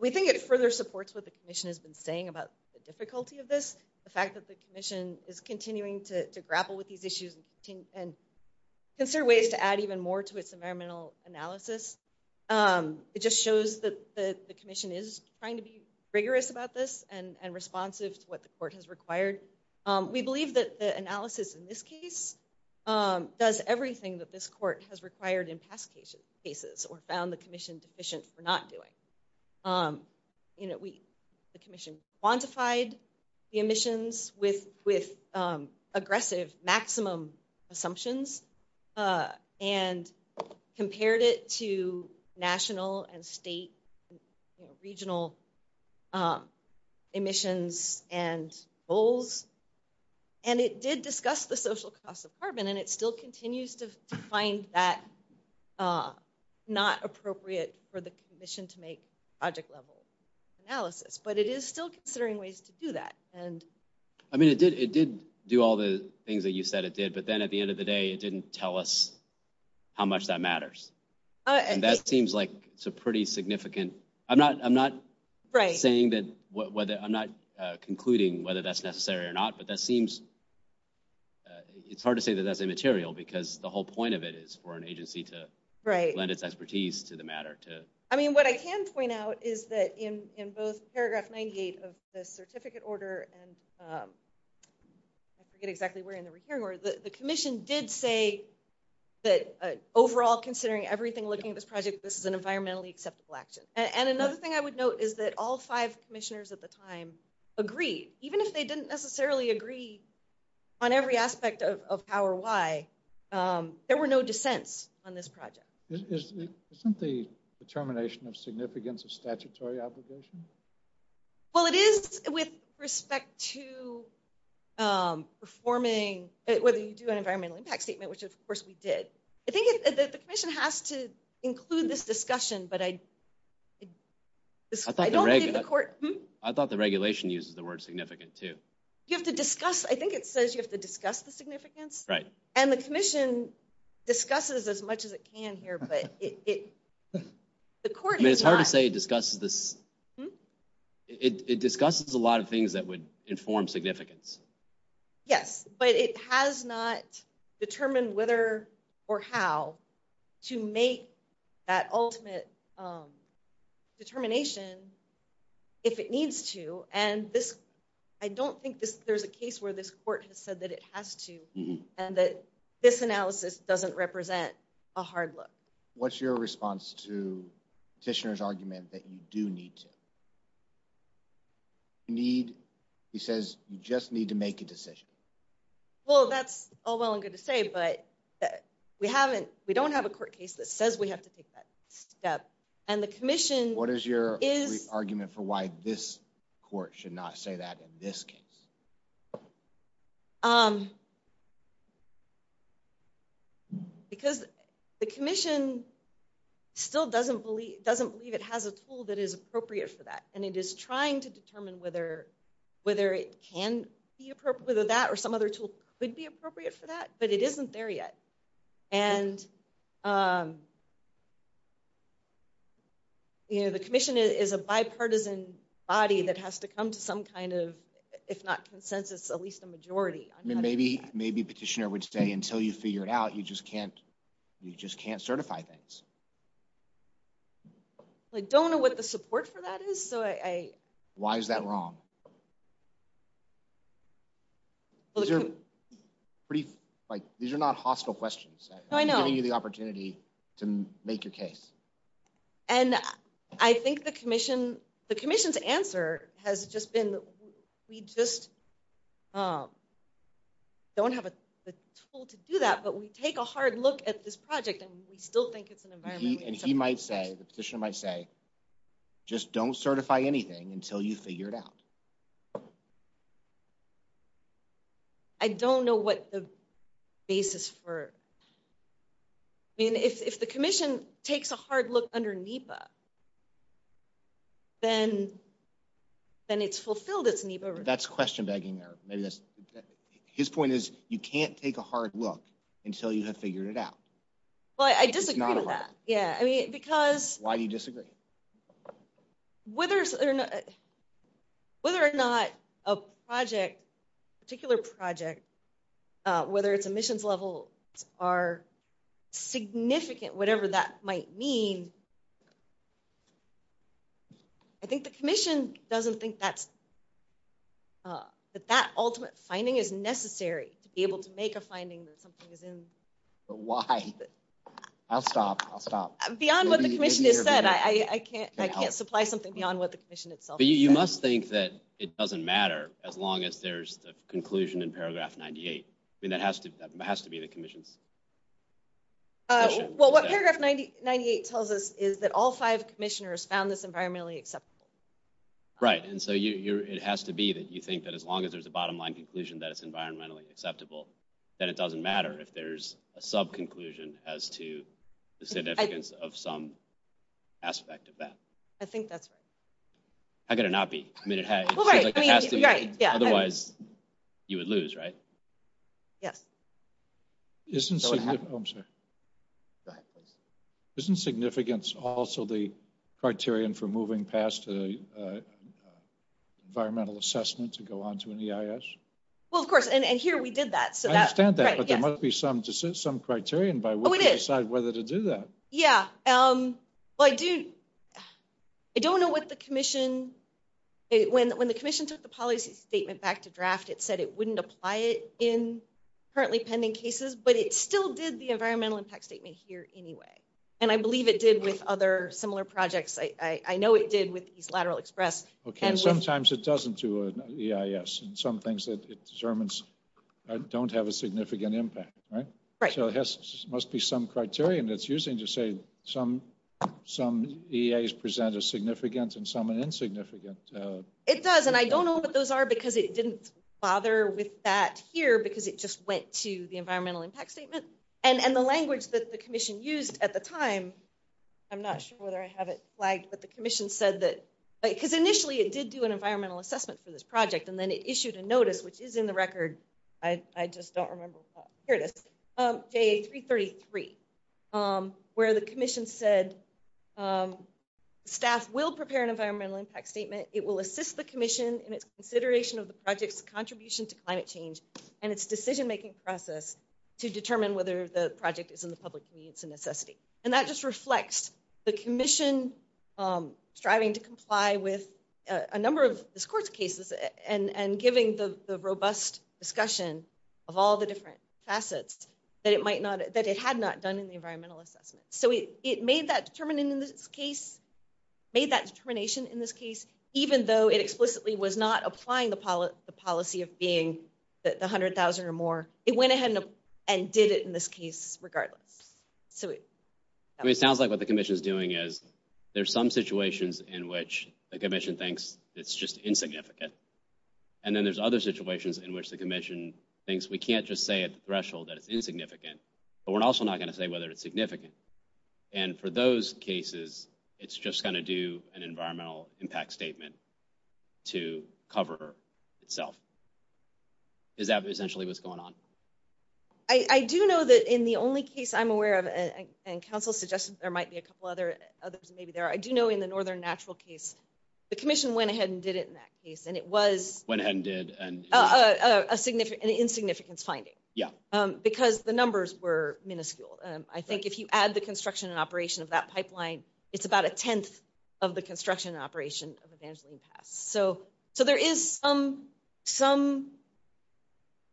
we think it further supports what the commission has been saying about the difficulty of this. The fact that the commission is continuing to grapple with these issues and consider ways to add even more to its environmental analysis, it just shows that the commission is trying to be rigorous about this and responsive to what the court has required. We believe that the analysis in this case does everything that this court has required in past cases or found the commission deficient for not doing. The commission quantified the emissions with aggressive maximum assumptions and compared it to national and state and regional emissions and goals. And it did discuss the social cost of carbon and it still continues to find that not appropriate for the commission to make object level analysis. But it is still considering ways to do that. I mean, it did do all the things that you said it did, but then at the end of the day, it didn't tell us how much that matters. And that seems like it's a pretty significant... I'm not concluding whether that's necessary or not, but it's hard to say that that's immaterial because the whole point of it is for an agency to lend its expertise to the community. What I can point out is that in both paragraph 98 of the certificate order and I forget exactly where in the hearing was, the commission did say that overall considering everything looking at this project, this is an environmentally acceptable action. And another thing I would note is that all five commissioners at the time agreed, even if they didn't necessarily agree on every aspect of how or why, there were no dissents on this project. Isn't the determination of significance a statutory obligation? Well, it is with respect to performing, whether you do an environmental impact statement, which of course we did. I think the commission has to include this discussion, but I don't think the court... I thought the regulation uses the word significant too. You have to discuss. I think it says you have to discuss the significance. Right. And the commission discusses as much as it can here, but the court... I mean, it's hard to say it discusses a lot of things that would inform significance. Yes, but it has not determined whether or how to make that ultimate determination if it needs to. And I don't think there's a case where this court has said that it has to and that this analysis doesn't represent a hard look. What's your response to the petitioner's argument that you do need to? He says you just need to make a decision. Well, that's all well and good to say, but we don't have a court case that says we have to take that step. And the commission is... What is your argument for why this court should not say that in this case? Because the commission still doesn't believe it has a tool that is appropriate for that, and it is trying to determine whether it can be appropriate, whether that or some other tool would be appropriate for that, but it isn't there yet. And the commission is a bipartisan body that has to come to some kind of, if not consensus, at least a majority. Maybe petitioner would say until you figure it out, you just can't certify things. I don't know what the support for that is, so I... Why is that wrong? These are not hostile questions. I'm giving you the opportunity to make your case. And I think the commission's answer has just been, we just don't have a tool to do that, but we take a hard look at this project, and we still think it's an environmental issue. And he might say, the petitioner might say, just don't certify anything until you figure it out. I don't know what the basis for it... I mean, if the commission takes a hard look under NEPA, then it's fulfilled its NEPA... That's question-begging there. His point is, you can't take a hard look until you have figured it out. Well, I disagree with that. Yeah, I mean, because... Why do you disagree? Whether or not a project, a particular project, whether its emissions level are significant, whatever that might mean, I think the commission doesn't think that ultimate finding is necessary to be able to make a finding that something is in the line. I'll stop. I can't supply something beyond what the commission itself says. You must think that it doesn't matter as long as there's a conclusion in paragraph 98. I mean, that has to be the commission. Well, what paragraph 98 tells us is that all five commissioners found this environmentally acceptable. Right, and so it has to be that you think that as long as there's a bottom-line conclusion that it's environmentally acceptable, that it doesn't matter if there's a sub-conclusion as to the significance of some aspect of that. I think that's right. I've got to not be committed. Otherwise, you would lose, right? Yes. Isn't significance also the criterion for moving past the environmental assessment to go on to an EIS? Well, of course, and here we did that. I understand that, but there must be some criterion by which we decide whether to do that. Yeah. I don't know what the commission, when the commission took the policy statement back to draft, it said it wouldn't apply it in currently pending cases, but it still did the environmental impact statement here anyway. And I believe it did with other similar projects. I know it did with East Lateral Express. Sometimes it doesn't do an EIS in some things that it determines don't have a significant impact, right? So it must be some criterion that's using to say some EAs present a significant and some an insignificant. It does, and I don't know what those are because it didn't bother with that here because it just went to the environmental impact statement. And the language that the commission used at the time, I'm not sure whether I have it here, but the commission said that, because initially it did do an environmental assessment for this project, and then it issued a notice, which is in the record. I just don't remember, here it is, day 333, where the commission said staff will prepare an environmental impact statement. It will assist the commission in its consideration of the project's contribution to climate change and its decision-making process to determine whether the project is in the public needs and necessity. And that just reflects the commission striving to comply with a number of discourse cases and giving the robust discussion of all the different facets that it had not done in the environmental assessment. So it made that determination in this case, even though it explicitly was not applying the policy of being the 100,000 or more. It went ahead and did it in this case regardless. So it sounds like what the commission is doing is there's some situations in which the commission thinks it's just insignificant, and then there's other situations in which the commission thinks we can't just say at the threshold that it's insignificant, but we're also not going to say whether it's significant. And for those cases, it's just going to do an environmental impact statement to cover itself. Is that essentially what's going on? I do know that in the only case I'm aware of, and Council's suggestions, there might be a couple others who may be there. I do know in the Northern Natural case, the commission went ahead and did it in that case, and it was an insignificant finding because the numbers were minuscule. I think if you add the construction and operation of that pipeline, it's about a tenth of the construction and operation of the damage that we've had. So there is some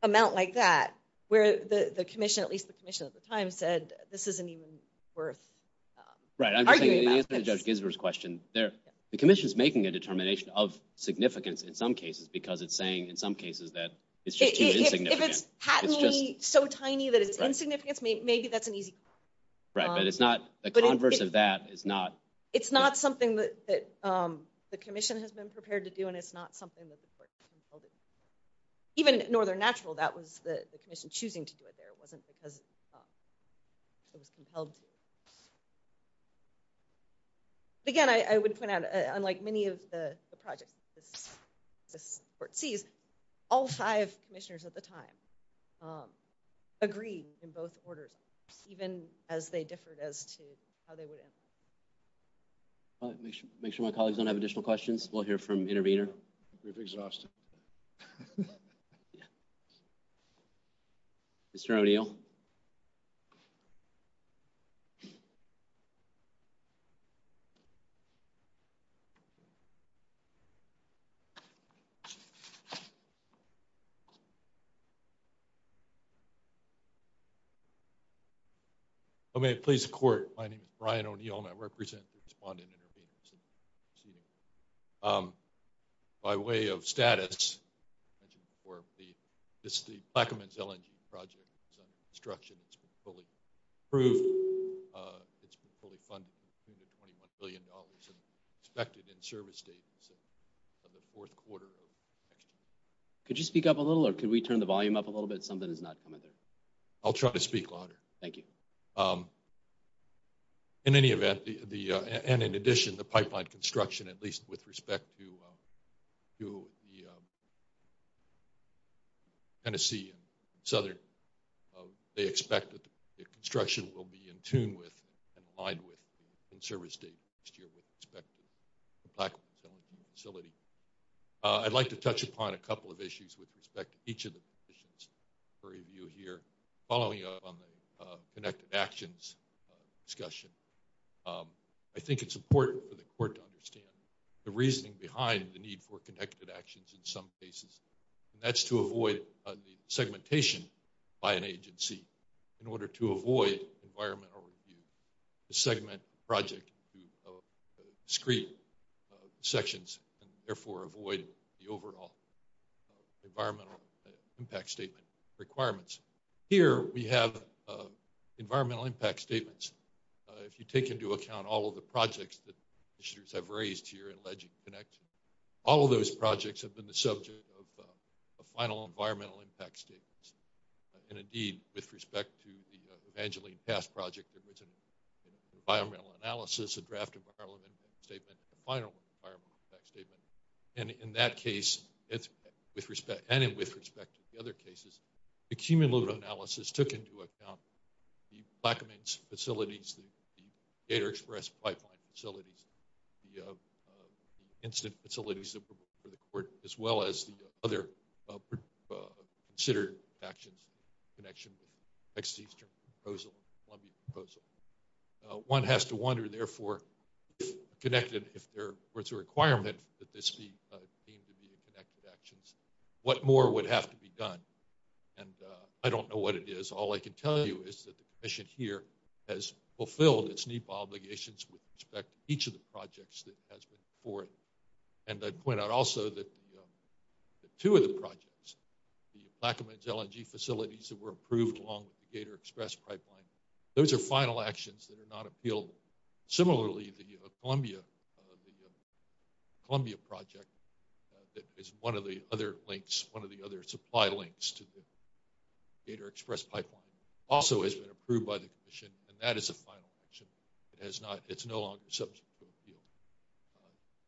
amount like that where the commission, at least the commission at the time, said this isn't even worth arguing about. In answer to Judge Gisbert's question, the commission's making a determination of significance in some cases because it's saying in some cases that it's just too insignificant. If it's patently so tiny that it's insignificant, maybe that's an easy call. Right, but it's not the converse of that. It's not something that the commission has been prepared to do, and it's not something that the court has been compelled to do. Even at Northern Natural, that was the commission choosing to do it there. It wasn't because it was compelled to. Again, I would point out, unlike many of the projects that the court sees, all five commissioners at the time agreed in both orders, even as they differed as to how they would answer. All right, make sure my colleagues don't have additional questions. We'll hear from the intervener. Mr. O'Neill? Okay, please, the court, my name is Brian O'Neill, and I represent the Respondent Intervention Committee. By way of status, as I mentioned before, this is the Plaquemines LNG project, so the construction has been fully approved. It's been fully funded, $21 billion, and expected in service dates in the fourth quarter of 2022. Could you speak up a little, or could we turn the volume up a little bit? Something is not coming through. I'll try to speak louder. Thank you. In any event, and in addition, the pipeline construction, at least with respect to the Tennessee and Southern, they expect that the construction will be in tune with and complied with in service dates next year with respect to the Plaquemines LNG facility. I'd like to touch upon a couple of issues with respect to each of the positions for review here, following up on the connected actions discussion. I think it's important for the court to understand the reasoning behind the need for connected actions in some cases, and that's to avoid the segmentation by an agency in order to avoid environmental review, the segment project, discrete sections, and therefore avoid the overall environmental impact statement requirements. Here, we have environmental impact statements. If you take into account all of the projects that the commissioners have raised here in Ledger Connection, all of those projects have been the subject of final environmental impact statements, and indeed, with respect to the Evangeline Pass project, there was an environmental analysis, a draft environmental impact statement, and a final environmental impact statement. And in that case, and with respect to the other cases, the cumulative analysis took into account the Plaquemines facilities, the Gator Express pipeline facilities, the incident facilities for the court, as well as the other considered actions in connection with the Texas-Eastern proposal, the Columbia proposal. One has to wonder, therefore, if connected, if there were to be a requirement that this be deemed to be a connected action, what more would have to be done? And I don't know what it is. All I can tell you is that the commission here has fulfilled its needful obligations with respect to each of the projects that has been reported. And I'd point out also that two of the projects, the Plaquemines LNG facilities that were approved along the Gator Express pipeline, those are final actions that are not appealed. Similarly, the Columbia project that is one of the other links, one of the other supply links to the Gator Express pipeline, also has been approved by the commission, and that is a final action, it's no longer subject to appeal.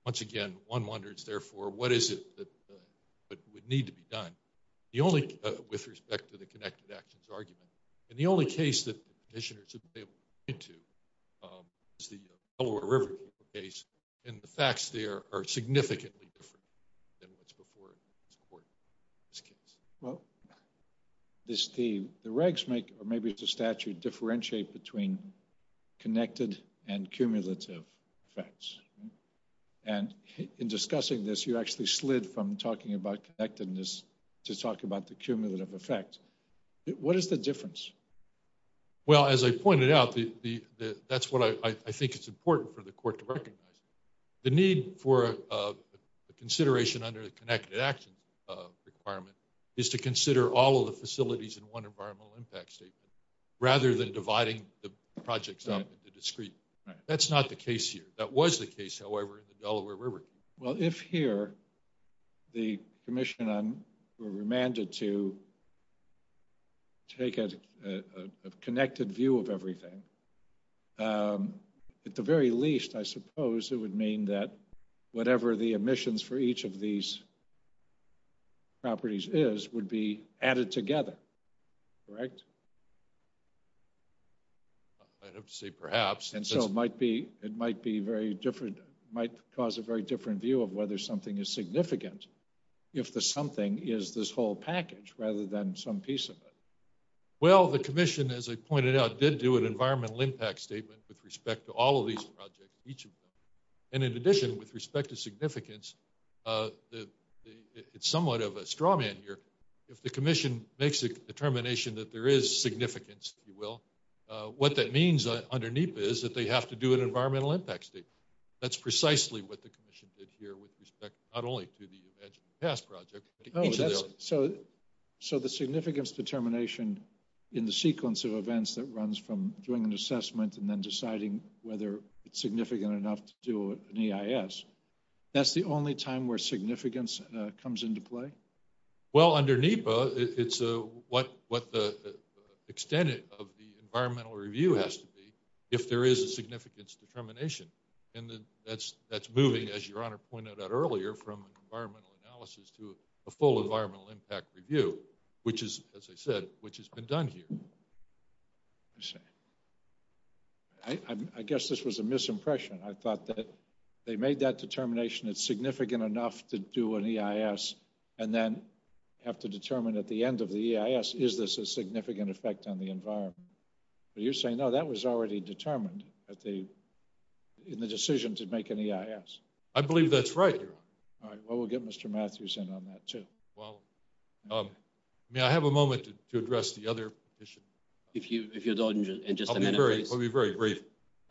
Once again, one wonders, therefore, what is it that would need to be done? The only, with respect to the connected actions argument, and the only case that commissioners have been able to get to is the Delaware River Basin, and the facts there are significantly different than what's before the court in this case. Well, Steve, the regs make, or maybe it's the statute, differentiate between connected and cumulative effects. And in discussing this, you actually slid from talking about connectedness to talk about the cumulative effect. What is the difference? Well, as I pointed out, that's what I think is important for the court to recognize. The need for consideration under the connected action requirement is to consider all of the facilities in one environmental impact statement, rather than dividing the projects up into discrete. That's not the case here. That was the case, however, in the Delaware River. Well, if here, the commission were remanded to take a connected view of everything, at the very least, I suppose it would mean that whatever the emissions for each of these properties is, would be added together, correct? I would say perhaps. And so it might be, it might be very different, might cause a very different view of whether something is significant, if the something is this whole package, rather than some piece of it. Well, the commission, as I pointed out, did do an environmental impact statement with each of them. And in addition, with respect to significance, it's somewhat of a straw man here. If the commission makes the determination that there is significance, if you will, what that means underneath is that they have to do an environmental impact statement. That's precisely what the commission did here with respect, not only to the Edging the Pass project. So the significance determination in the sequence of events that runs from doing an significant enough to an EIS, that's the only time where significance comes into play? Well, under NEPA, it's what the extent of the environmental review has to be, if there is a significance determination. And that's moving, as Your Honor pointed out earlier, from an environmental analysis to a full environmental impact review, which is, as I said, which has been done here. I guess this was a misimpression. I thought that they made that determination, it's significant enough to do an EIS, and then have to determine at the end of the EIS, is this a significant effect on the environment? But you're saying, no, that was already determined in the decision to make an EIS. I believe that's right, Your Honor. All right, well, we'll get Mr. Matthews in on that, too. Well, may I have a moment to address the other issue? If you don't, just a minute. It'll be very brief.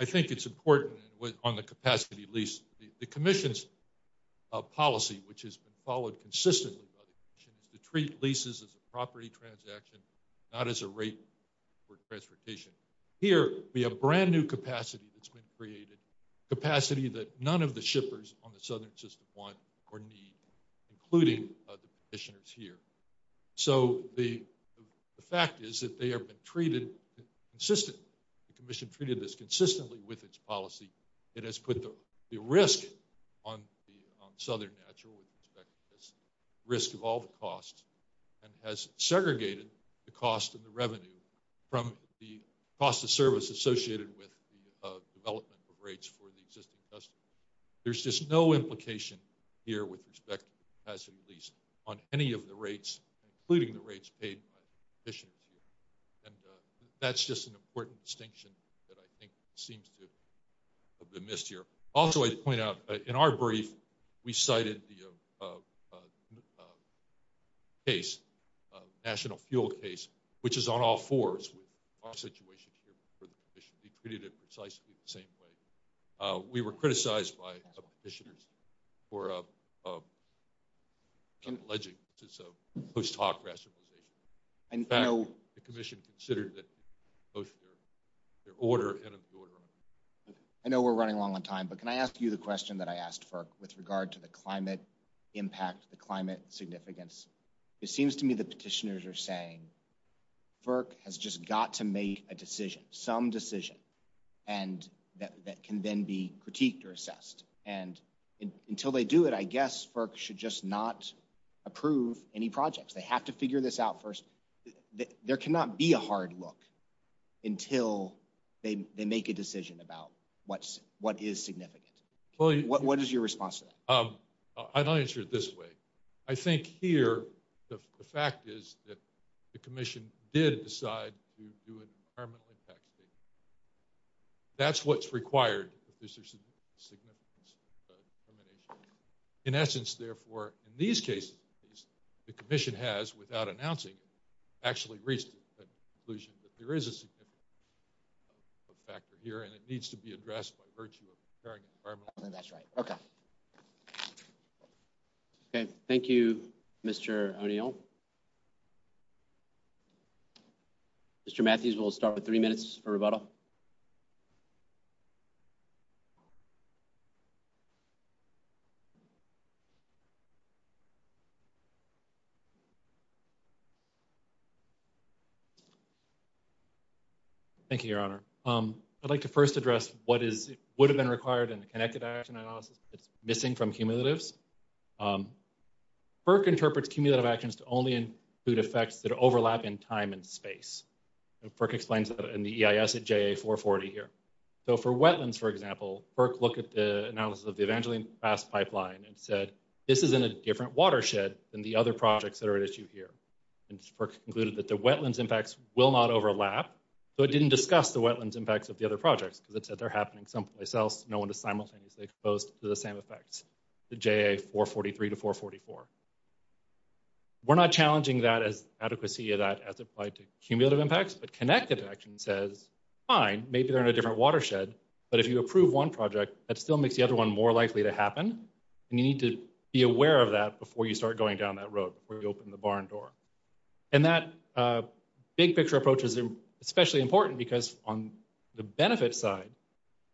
I think it's important on the capacity lease. The commission's policy, which has been followed consistently, is to treat leases as a property transaction, not as a rate for transportation. Here, we have brand new capacity that's been created, capacity that none of the shippers on the southern system want or need, including the commissioners here. So the fact is that they have been treated consistently. The commission treated this consistently with its policy. It has put the risk on Southern Natural Resources, the risk of all the costs, and has segregated the cost of the revenue from the cost of service associated with the development of rates for the existing customers. There's just no implication here with respect to the capacity lease on any of the rates, including the rates paid by the commission. And that's just an important distinction that I think seems to have been missed here. Also, I'd point out, in our brief, we cited the case, the National Fuel case, which is on all fours with all situations for the commission. We treated it precisely the same way. We were criticized by a couple of petitioners for an alleged post-hoc rasterization. The commission considered that most of their order ended up going wrong. I know we're running long on time, but can I ask you the question that I asked FERC with regard to the climate impact, the climate significance? It seems to me the petitioners are saying FERC has just got to make a decision, some decision, and that can then be critiqued or assessed. And until they do it, I guess FERC should just not approve any projects. They have to figure this out first. There cannot be a hard look until they make a decision about what is significant. What is your response to that? I'd answer it this way. I think here, the fact is that the commission did decide to do a climate impact case. That's what's required. In essence, therefore, in these cases, the commission has, without announcing, actually reached the conclusion that there is a significant climate impact factor here, and it needs to be addressed by virtue of the current environment. That's right. Okay. Thank you, Mr. O'Neill. Mr. Matthews, we'll start with three minutes for rebuttal. Thank you, Your Honor. I'd like to first address what would have been required in the Connected Action and Missing from Cumulatives. FERC interprets cumulative actions to only include effects that overlap in time and space. FERC explains that in the EIS at JA 440 here. So, for wetlands, for example, FERC looked at the analysis of the Evangeline Fast Pipeline and said, this is in a different watershed than the other projects that are at issue here. And FERC concluded that the wetlands impacts will not overlap, so it didn't discuss the wetlands impacts of the other projects because it said they're happening someplace else, no one is simultaneously exposed to the same effects, the JA 443 to 444. We're not challenging that as adequacy of that as applied to cumulative impacts, but Connected Action says, fine, maybe they're in a different watershed, but if you approve one project, that still makes the other one more likely to happen. You need to be aware of that before you start going down that road, before you open the barn door. And that big-picture approach is especially important because on the benefits side,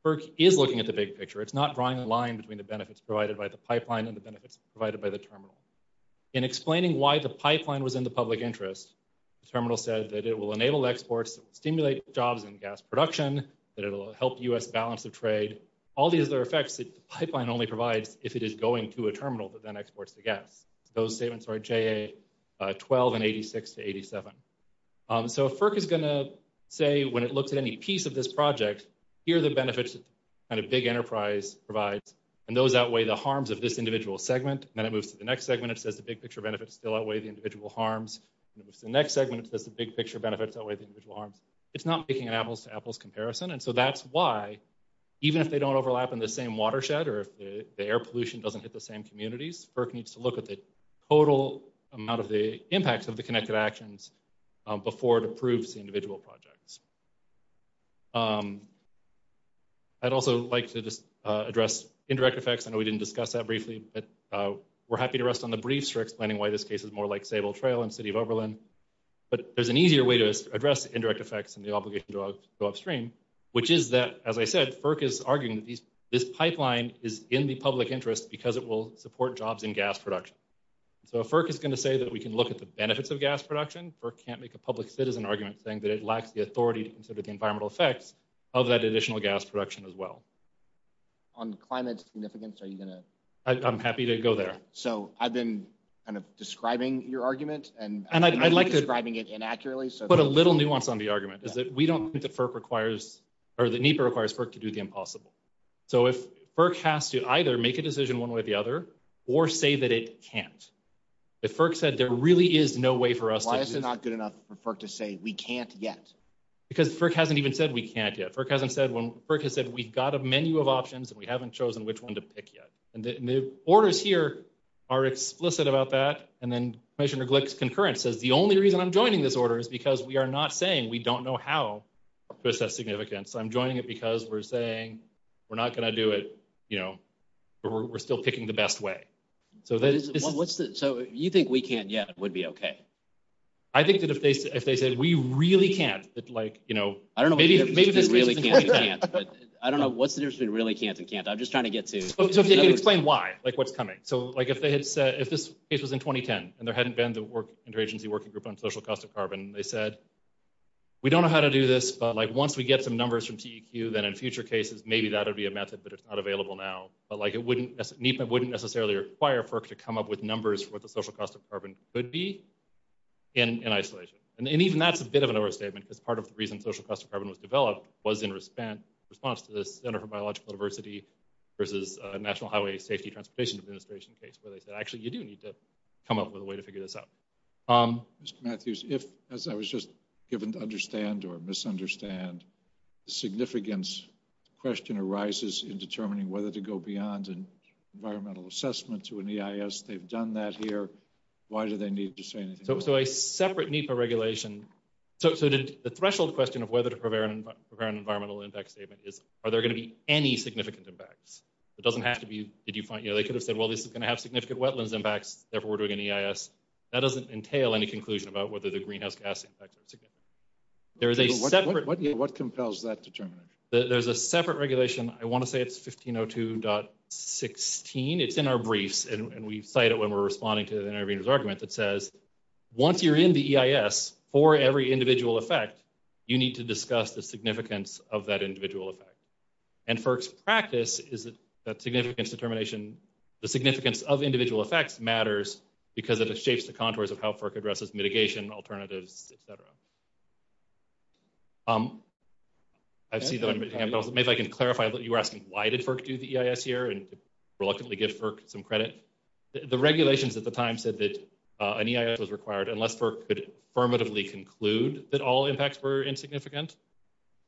FERC is looking at the big picture. It's not drawing a line between the benefits provided by the pipeline and the benefits provided by the terminal. In explaining why the pipeline was in the public interest, the terminal said that it will enable exports, stimulate jobs in gas production, that it'll help US balance the trade, all these other effects that the pipeline only provides if it is going to a terminal that then exports the gas. Those statements are JA 12 and 86 to 87. So, FERC is going to say, when it looks at any piece of this project, here are the benefits that a big enterprise provides, and those outweigh the harms of this individual segment. Then it moves to the next segment, it says the big-picture benefits still outweigh the individual harms. It moves to the next segment, it says the big-picture benefits outweigh the individual harms. It's not making an apples-to-apples comparison, and so that's why, even if they don't overlap in the same watershed or if the air pollution doesn't hit the same communities, FERC needs to look at the total amount of the impacts of the Connected Actions before it approves the individual projects. I'd also like to just address indirect effects. I know we didn't discuss that briefly, but we're happy to rest on the briefs for explaining why this case is more like Sable Trail and City of Overland. But there's an easier way to address indirect effects and the obligation to go upstream, which is that, as I said, FERC is arguing that this pipeline is in the public interest because it will support jobs in gas production. So, if FERC is going to say that we can look at the benefits of gas production, FERC can't of that additional gas production as well. On climate significance, are you going to... I'm happy to go there. So, I've been kind of describing your argument, and I'm describing it inaccurately, so... Put a little nuance on the argument, is that we don't think that FERC requires, or that NEPA requires FERC to do the impossible. So, if FERC has to either make a decision one way or the other, or say that it can't, if FERC said there really is no way for us to... Why is it not good enough for FERC to say, we can't yet? Because FERC hasn't even said we can't yet. FERC hasn't said when... FERC has said, we've got a menu of options, and we haven't chosen which one to pick yet. And the orders here are explicit about that. And then Commissioner Glick's concurrence says, the only reason I'm joining this order is because we are not saying we don't know how this has significance. So, I'm joining it because we're saying we're not going to do it, you know, or we're still picking the best way. So, that is... So, you think we can't yet would be okay? I think that if they say, we really can't, it's like, you know... I don't know what's the difference between really can't and can't. I'm just trying to get to... So, can you explain why? Like, what's coming? So, like, if this case was in 2010, and there hadn't been the interagency working group on social cost of carbon, they said, we don't know how to do this, but, like, once we get some numbers from TEQ, then in future cases, maybe that would be a method, but it's not available now. But, like, it wouldn't... NEPA wouldn't necessarily require FERC to come up with numbers for what the social cost of carbon could be in isolation. And even that's a bit of an overstatement, because part of the reason social cost of carbon was developed was in response to the Center for Biological Diversity versus National Highway Safety Transportation Administration case, where they said, actually, you do need to come up with a way to figure this out. Mr. Matthews, if, as I was just given to understand or misunderstand, the significance question arises in determining whether to go beyond an environmental assessment to an EIS. They've done that here. Why do they need to say anything else? So a separate NEPA regulation... So the threshold question of whether to prepare an environmental impact statement is, are there going to be any significant impacts? It doesn't have to be, did you point, you know, they could have said, well, this is going to have significant wetlands impacts, therefore we're doing an EIS. That doesn't entail any conclusion about whether the greenhouse gas impacts are significant. What compels that determination? There's a separate regulation. I want to say it's 1502.16. It's in our briefs. And we cite it when we're responding to the intervener's argument that says, once you're in the EIS for every individual effect, you need to discuss the significance of that individual effect. And FERC's practice is that significance determination, the significance of individual effects matters because of the shapes and contours of how FERC addresses mitigation alternatives, et cetera. Maybe I can clarify what you were asking. Why did FERC do the EIS here and reluctantly give FERC some credit? The regulations at the time said that an EIS was required unless FERC could affirmatively conclude that all impacts were insignificant.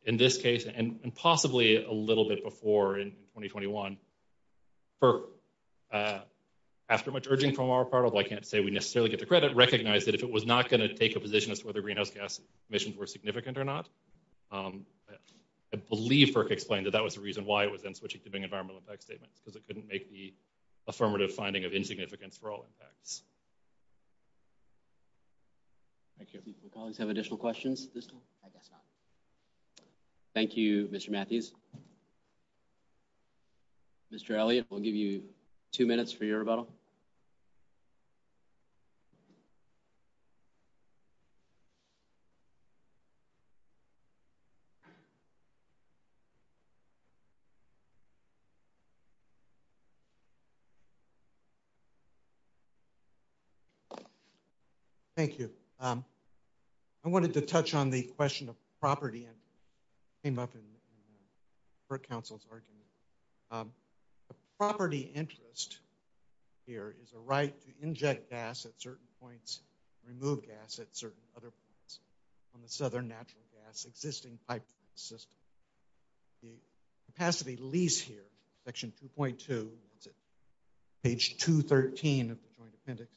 In this case, and possibly a little bit before in 2021, FERC, after much urging from our part of, I can't say we necessarily get the credit, recognized that if it was not going to take a position as to whether greenhouse gas emissions were significant or not, I believe FERC explained that that was the reason why it was then switching to being an environmental impact statement, because it couldn't make the affirmative finding of insignificance for all impacts. Thank you. Do colleagues have additional questions at this time? I guess not. Thank you, Mr. Matthews. Mr. Elliott, we'll give you two minutes for your rebuttal. Thank you. I wanted to touch on the question of property. It came up in the Council's argument. The property interest here is a right to inject gas at certain points, remove gas at certain other points from the southern natural gas, existing pipeline system. The capacity lease here, section 2.2, page 213 of the Joint Appendix,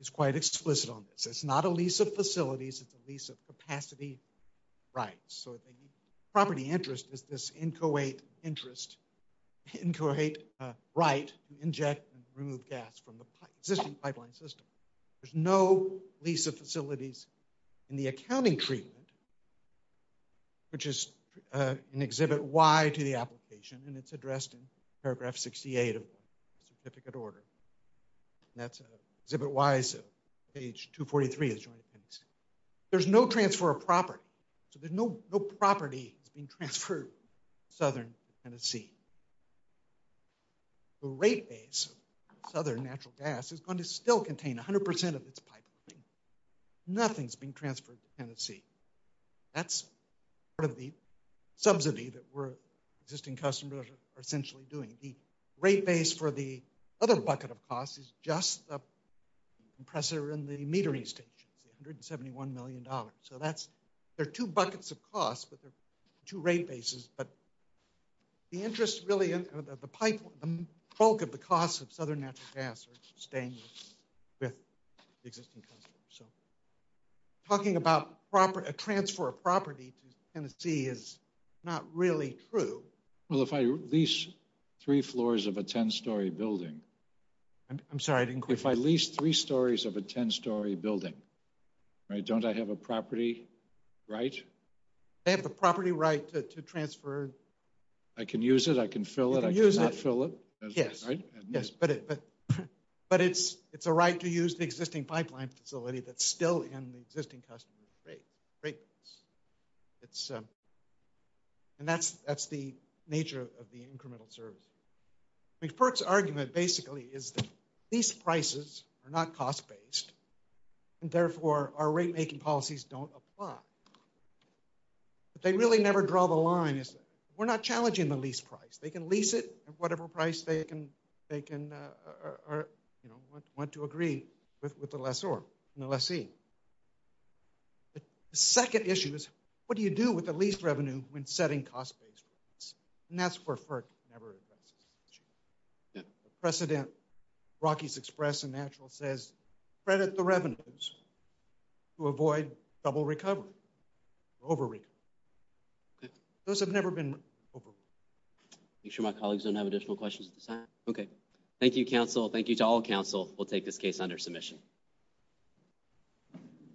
is quite explicit on this. It's not a lease of facilities, it's a lease of capacity rights. So the property interest is this inchoate interest, inchoate right to inject and remove gas from the existing pipeline system. There's no lease of facilities in the accounting treatment, which is in Exhibit Y to the application, and it's addressed in paragraph 68 of the certificate order. That's Exhibit Y, page 243 of the Joint Appendix. There's no transfer of property, so there's no property being transferred to southern Tennessee. The rate base of southern natural gas is going to still contain 100% of its pipeline. Nothing's being transferred to Tennessee. That's part of the subsidy that we're, existing customers, are essentially doing. The rate base for the other bucket of costs is just the compressor and the metering station, 171 million dollars. So that's, there are two buckets of costs, but there's two rate bases, but the interest really, the pipe, the bulk of the costs of southern natural gas is staying with the existing customers. So talking about a transfer of property to Tennessee is not really true. Well, if I lease three floors of a 10-story building. I'm sorry, I didn't quite. If I lease three stories of a 10-story building, don't I have a property right? You have the property right to transfer. I can use it, I can fill it, I cannot fill it? Yes, yes, but it's a right to use the existing pipeline facility, that's still in the existing customer's rate base. And that's the nature of the incremental service. I mean, Perk's argument basically is that these prices are not cost-based, and therefore our rate-making policies don't apply. But they really never draw the line, we're not challenging the lease price. They can lease it at whatever price they can, or, you know, want to agree with the lessor and the lessee. The second issue is, what do you do with the lease revenue when setting cost-based rates? And that's where Perk never addresses the issue. The precedent, Rockies Express and Natural says, credit the revenues to avoid trouble recovery, over-recovery. Those have never been over-recovered. Make sure my colleagues don't have additional questions at this time. Okay, thank you, counsel. Thank you to all counsel. We'll take this case under submission.